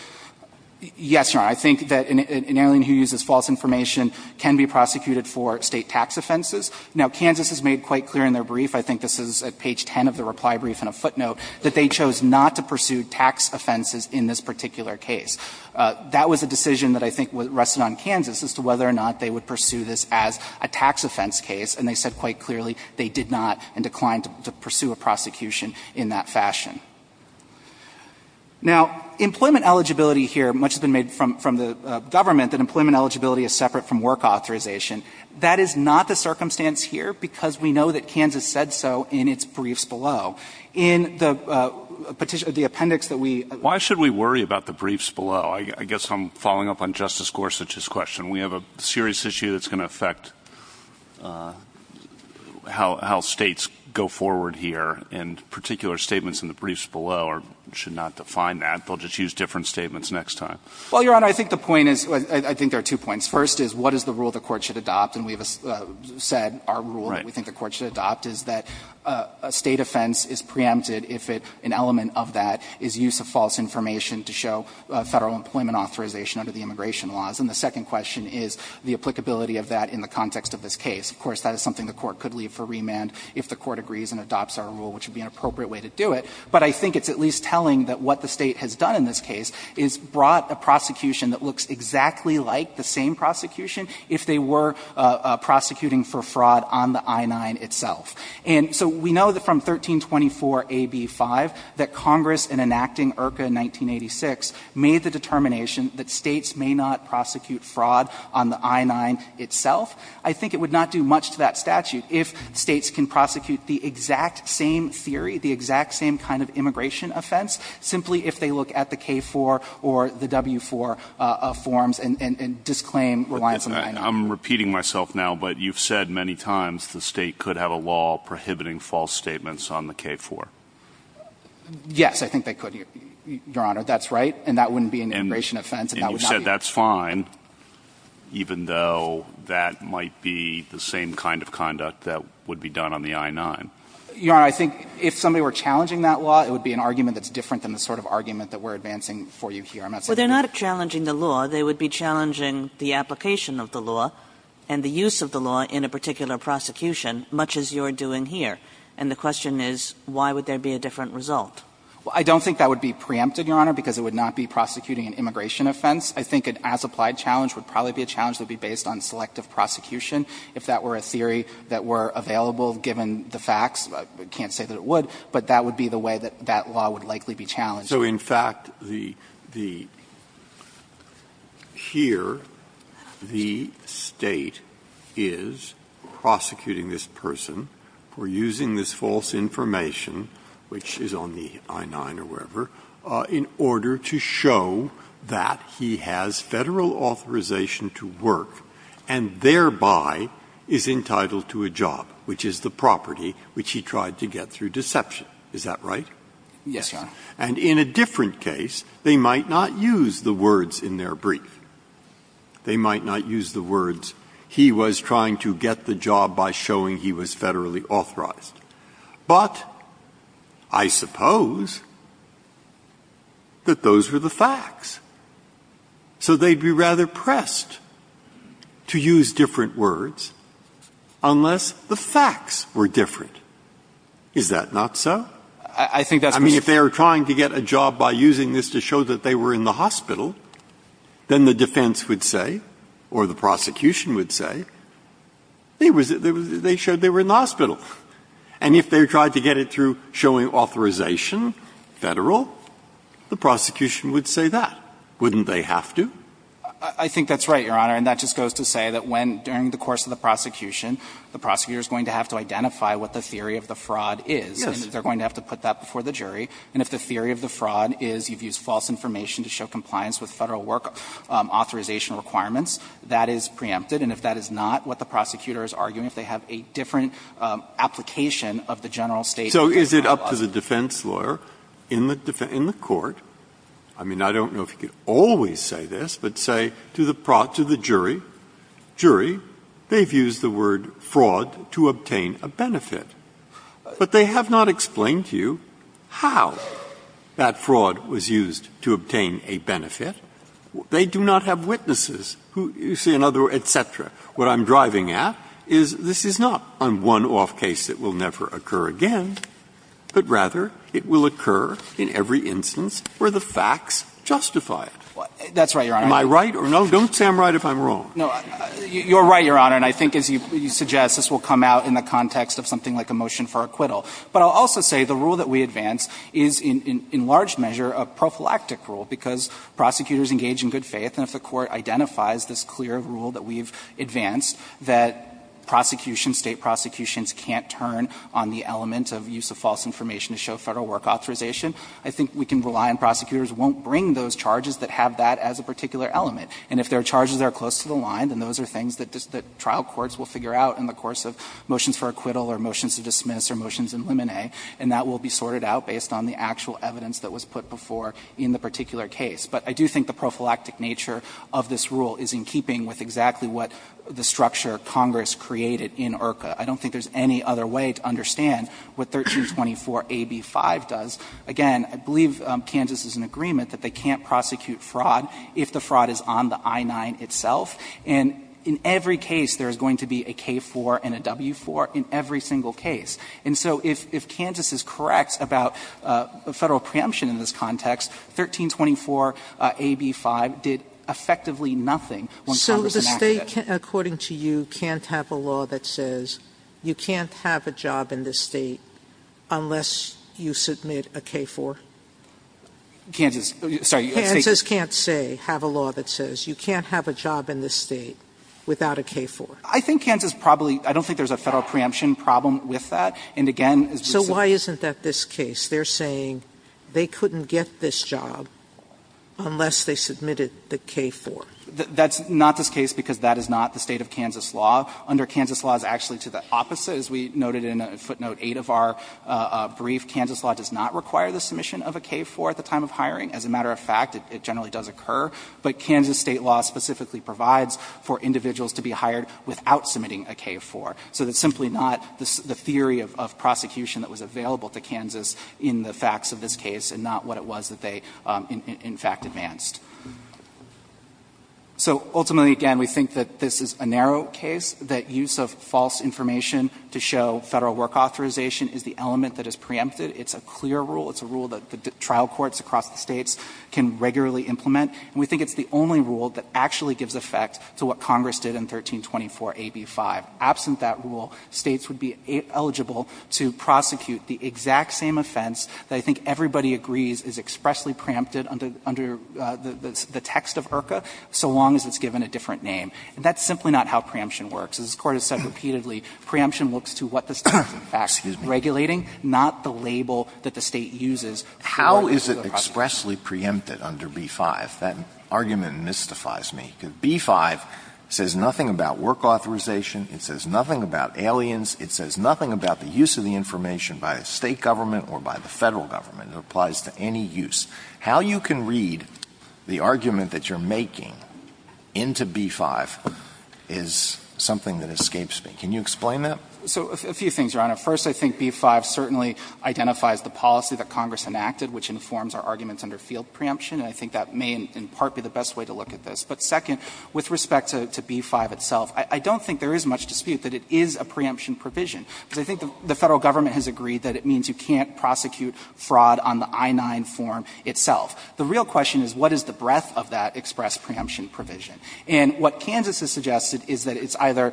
Yes, Your Honor, I think that an alien who uses false information can be prosecuted for State tax offenses. Now, Kansas has made quite clear in their brief, I think this is at page 10 of the reply brief and a footnote, that they chose not to pursue tax offenses in this particular case. That was a decision that I think rested on Kansas as to whether or not they would pursue this as a tax offense case, and they said quite clearly they did not and declined to pursue a prosecution in that fashion. Now, employment eligibility here, much has been made from the Government that employment eligibility is separate from work authorization. That is not the circumstance here because we know that Kansas said so in its briefs as well. In the petition, the appendix that we – Why should we worry about the briefs below? I guess I'm following up on Justice Gorsuch's question. We have a serious issue that's going to affect how States go forward here, and particular statements in the briefs below should not define that. They'll just use different statements next time. Well, Your Honor, I think the point is – I think there are two points. First is what is the rule the Court should adopt, and we've said our rule that we is preempted if it – an element of that is use of false information to show Federal employment authorization under the immigration laws. And the second question is the applicability of that in the context of this case. Of course, that is something the Court could leave for remand if the Court agrees and adopts our rule, which would be an appropriate way to do it. But I think it's at least telling that what the State has done in this case is brought a prosecution that looks exactly like the same prosecution if they were prosecuting for fraud on the I-9 itself. And so we know that from 1324a)(b)(5), that Congress, in enacting IRCA in 1986, made the determination that States may not prosecute fraud on the I-9 itself. I think it would not do much to that statute if States can prosecute the exact same theory, the exact same kind of immigration offense, simply if they look at the K-4 or the W-4 forms and disclaim reliance on the I-9. I'm repeating myself now, but you've said many times the State could have a law prohibiting false statements on the K-4. Yes, I think they could, Your Honor. That's right, and that wouldn't be an immigration offense, and that would not be an immigration offense. And you said that's fine, even though that might be the same kind of conduct that would be done on the I-9. Your Honor, I think if somebody were challenging that law, it would be an argument that's different than the sort of argument that we're advancing for you here. I'm not saying that's the case. Well, they're not challenging the law. They would be challenging the application of the law and the use of the law in a particular prosecution, much as you're doing here. And the question is, why would there be a different result? I don't think that would be preempted, Your Honor, because it would not be prosecuting an immigration offense. I think an as-applied challenge would probably be a challenge that would be based on selective prosecution, if that were a theory that were available, given the facts. I can't say that it would, but that would be the way that that law would likely be challenged. Breyer. So in fact, the here the State is prosecuting this person for using this false information, which is on the I-9 or wherever, in order to show that he has Federal authorization to work and thereby is entitled to a job, which is the property which he tried to get Is that right? Yes, Your Honor. And in a different case, they might not use the words in their brief. They might not use the words, he was trying to get the job by showing he was Federally authorized. But I suppose that those were the facts. So they'd be rather pressed to use different words unless the facts were different. Is that not so? I think that's because I mean, if they were trying to get a job by using this to show that they were in the hospital, then the defense would say, or the prosecution would say, they showed they were in the hospital. And if they tried to get it through showing authorization, Federal, the prosecution would say that. Wouldn't they have to? I think that's right, Your Honor. And that just goes to say that when, during the course of the prosecution, the prosecutor is going to have to identify what the theory of the fraud is. Yes. And that they're going to have to put that before the jury. And if the theory of the fraud is you've used false information to show compliance with Federal work authorization requirements, that is preempted. And if that is not what the prosecutor is arguing, if they have a different application of the general state. So is it up to the defense lawyer in the court, I mean, I don't know if he could always say this, but say to the jury, jury, they've used the word fraud to obtain a benefit. But they have not explained to you how that fraud was used to obtain a benefit. They do not have witnesses who you see in other, et cetera. What I'm driving at is this is not a one-off case that will never occur again, but rather it will occur in every instance where the facts justify it. That's right, Your Honor. Am I right or no? Don't say I'm right if I'm wrong. No, you're right, Your Honor. And I think, as you suggest, this will come out in the context of something like a motion for acquittal. But I'll also say the rule that we advance is in large measure a prophylactic rule, because prosecutors engage in good faith. And if the Court identifies this clear rule that we've advanced, that prosecution, State prosecutions can't turn on the element of use of false information to show Federal work authorization, I think we can rely on prosecutors who won't bring those charges that have that as a particular element. And if there are charges that are close to the line, then those are things that trial courts will figure out in the course of motions for acquittal or motions to dismiss or motions in limine, and that will be sorted out based on the actual evidence that was put before in the particular case. But I do think the prophylactic nature of this rule is in keeping with exactly what the structure Congress created in IRCA. I don't think there's any other way to understand what 1324a)(b)(5 does. Again, I believe Kansas is in agreement that they can't prosecute fraud if the fraud is on the I-9 itself. And in every case there is going to be a K-4 and a W-4, in every single case. And so if Kansas is correct about Federal preemption in this context, 1324a)(b)(5 did effectively nothing when Congress enacted it. Sotomayor, according to you, can't have a law that says you can't have a job in this State unless you submit a K-4? Kroger, Kansas, sorry. Kansas can't say, have a law that says you can't have a job in this State without a K-4. I think Kansas probably, I don't think there's a Federal preemption problem with that. And again, as we said. So why isn't that this case? They're saying they couldn't get this job unless they submitted the K-4. That's not this case, because that is not the State of Kansas law. Under Kansas law, it's actually to the opposite, as we noted in footnote 8 of our brief. Kansas law does not require the submission of a K-4 at the time of hiring. As a matter of fact, it generally does occur. But Kansas State law specifically provides for individuals to be hired without submitting a K-4. So it's simply not the theory of prosecution that was available to Kansas in the facts of this case and not what it was that they, in fact, advanced. So ultimately, again, we think that this is a narrow case, that use of false information to show Federal work authorization is the element that is preempted. It's a clear rule. It's a rule that the trial courts across the States can regularly implement. And we think it's the only rule that actually gives effect to what Congress did in 1324 AB5. Absent that rule, States would be eligible to prosecute the exact same offense that I think everybody agrees is expressly preempted under the text of IRCA, so long as it's given a different name. And that's simply not how preemption works. As this Court has said repeatedly, preemption looks to what the State is, in fact, regulating, not the label that the State uses for the prosecution. Alitoson How is it expressly preempted under B-5? That argument mystifies me. B-5 says nothing about work authorization. It says nothing about aliens. It says nothing about the use of the information by a State government or by the Federal government. It applies to any use. How you can read the argument that you're making into B-5 is something that escapes me. Can you explain that? So a few things, Your Honor. First, I think B-5 certainly identifies the policy that Congress enacted, which informs our arguments under field preemption, and I think that may in part be the best way to look at this. But second, with respect to B-5 itself, I don't think there is much dispute that it is a preemption provision, because I think the Federal government has agreed that it means you can't prosecute fraud on the I-9 form itself. The real question is, what is the breadth of that express preemption provision? And what Kansas has suggested is that it's either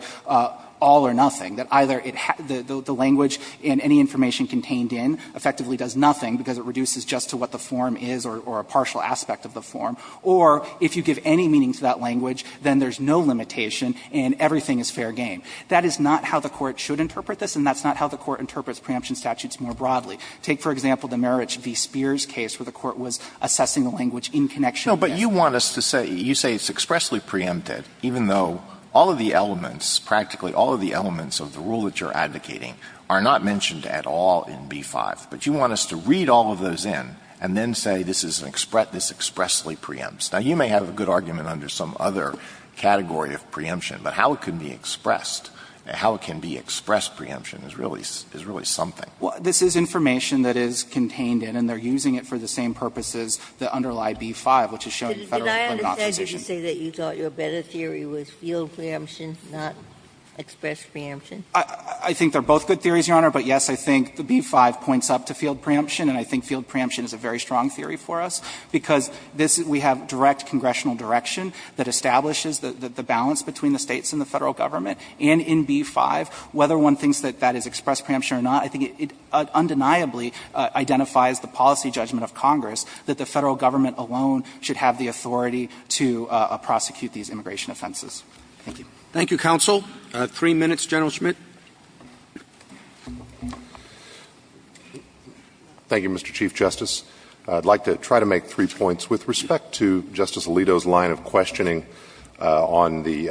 all or nothing, that either it has the language and any information contained in effectively does nothing because it reduces just to what the form is or a partial aspect of the form, or if you give any meaning to that language, then there's no limitation and everything is fair game. That is not how the Court should interpret this, and that's not how the Court interprets preemption statutes more broadly. Take, for example, the Marich v. Spears case where the Court was assessing the language in connection with this. Alito, but you want us to say, you say it's expressly preempted, even though all of the elements, practically all of the elements of the rule that you're advocating are not mentioned at all in B-5. But you want us to read all of those in and then say this is an express – this expressly preempts. Now, you may have a good argument under some other category of preemption, but how it can be expressed, how it can be expressed preemption is really something. Well, this is information that is contained in, and they're using it for the same purposes that underlie B-5, which is showing Federal claim not position. Did I understand you to say that you thought your better theory was field preemption, not express preemption? I think they're both good theories, Your Honor, but yes, I think the B-5 points up to field preemption, and I think field preemption is a very strong theory for us, because this – we have direct congressional direction that establishes the balance between the States and the Federal Government. And in B-5, whether one thinks that that is express preemption or not, I think it undeniably identifies the policy judgment of Congress that the Federal Government alone should have the authority to prosecute these immigration offenses. Thank you. Roberts. Thank you, counsel. Three minutes, General Schmidt. Schmidt. Schmidt. Thank you, Mr. Chief Justice. I'd like to try to make three points with respect to Justice Alito's line of questioning on the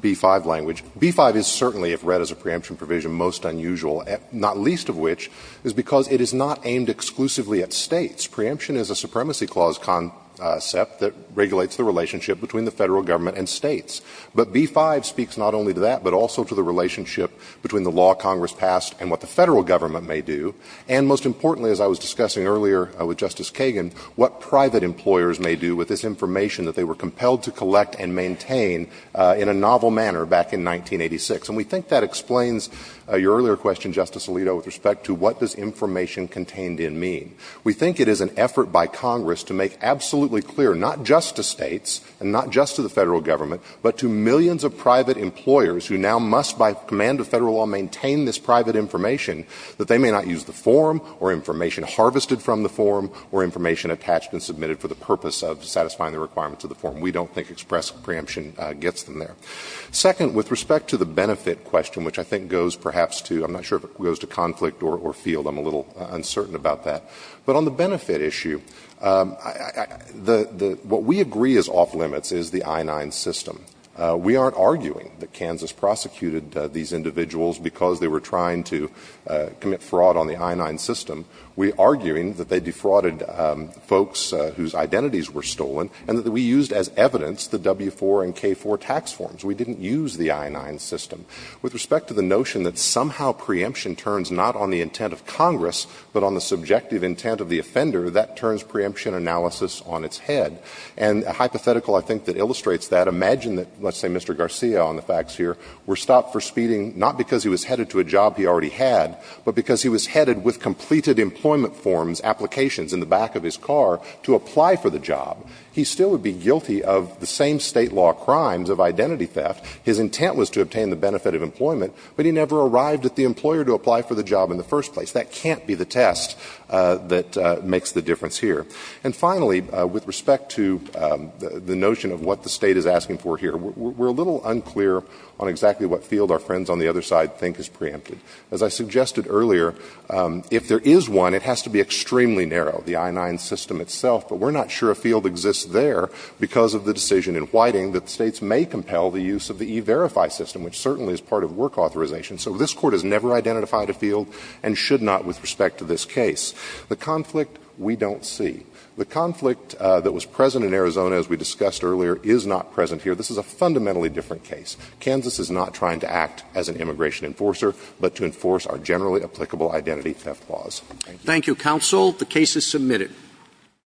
B-5 language. B-5 is certainly, if read as a preemption provision, most unusual, not least of which is because it is not aimed exclusively at States. Preemption is a supremacy clause concept that regulates the relationship between the Federal Government and States. But B-5 speaks not only to that, but also to the relationship between the law Congress passed and what the Federal Government may do, and most importantly, as I was discussing earlier with Justice Kagan, what private employers may do with this information that they were compelled to collect and maintain in a novel manner back in 1986. And we think that explains your earlier question, Justice Alito, with respect to what does information contained in mean. We think it is an effort by Congress to make absolutely clear, not just to States and not just to the Federal Government, but to millions of private employers who now must, by command of Federal law, maintain this private information, that they may not use the form or information harvested from the form or information attached and submitted for the purpose of satisfying the requirements of the form. We don't think express preemption gets them there. Second, with respect to the benefit question, which I think goes perhaps to, I'm not sure if it goes to conflict or field, I'm a little uncertain about that. But on the benefit issue, what we agree is off limits is the I-9 system. We aren't arguing that Kansas prosecuted these individuals because they were trying to commit fraud on the I-9 system. We are arguing that they defrauded folks whose identities were stolen and that we used as evidence the W-4 and K-4 tax forms. We didn't use the I-9 system. With respect to the notion that somehow preemption turns not on the intent of Congress, but on the subjective intent of the offender, that turns preemption analysis on its head. And a hypothetical, I think, that illustrates that, imagine that, let's say Mr. Garcia on the facts here, were stopped for speeding, not because he was headed to a job he already had, but because he was headed with completed employment forms, applications in the back of his car, to apply for the job. He still would be guilty of the same state law crimes of identity theft. His intent was to obtain the benefit of employment, but he never arrived at the employer to apply for the job in the first place. That can't be the test that makes the difference here. And finally, with respect to the notion of what the State is asking for here, we're a little unclear on exactly what field our friends on the other side think is preempted. As I suggested earlier, if there is one, it has to be extremely narrow, the I-9 system itself. But we're not sure a field exists there because of the decision in Whiting that States may compel the use of the E-Verify system, which certainly is part of work authorization. So this Court has never identified a field and should not with respect to this case. The conflict we don't see. The conflict that was present in Arizona, as we discussed earlier, is not present here. This is a fundamentally different case. Kansas is not trying to act as an immigration enforcer, but to enforce our generally applicable identity theft laws. Thank you. Thank you, counsel. The case is submitted.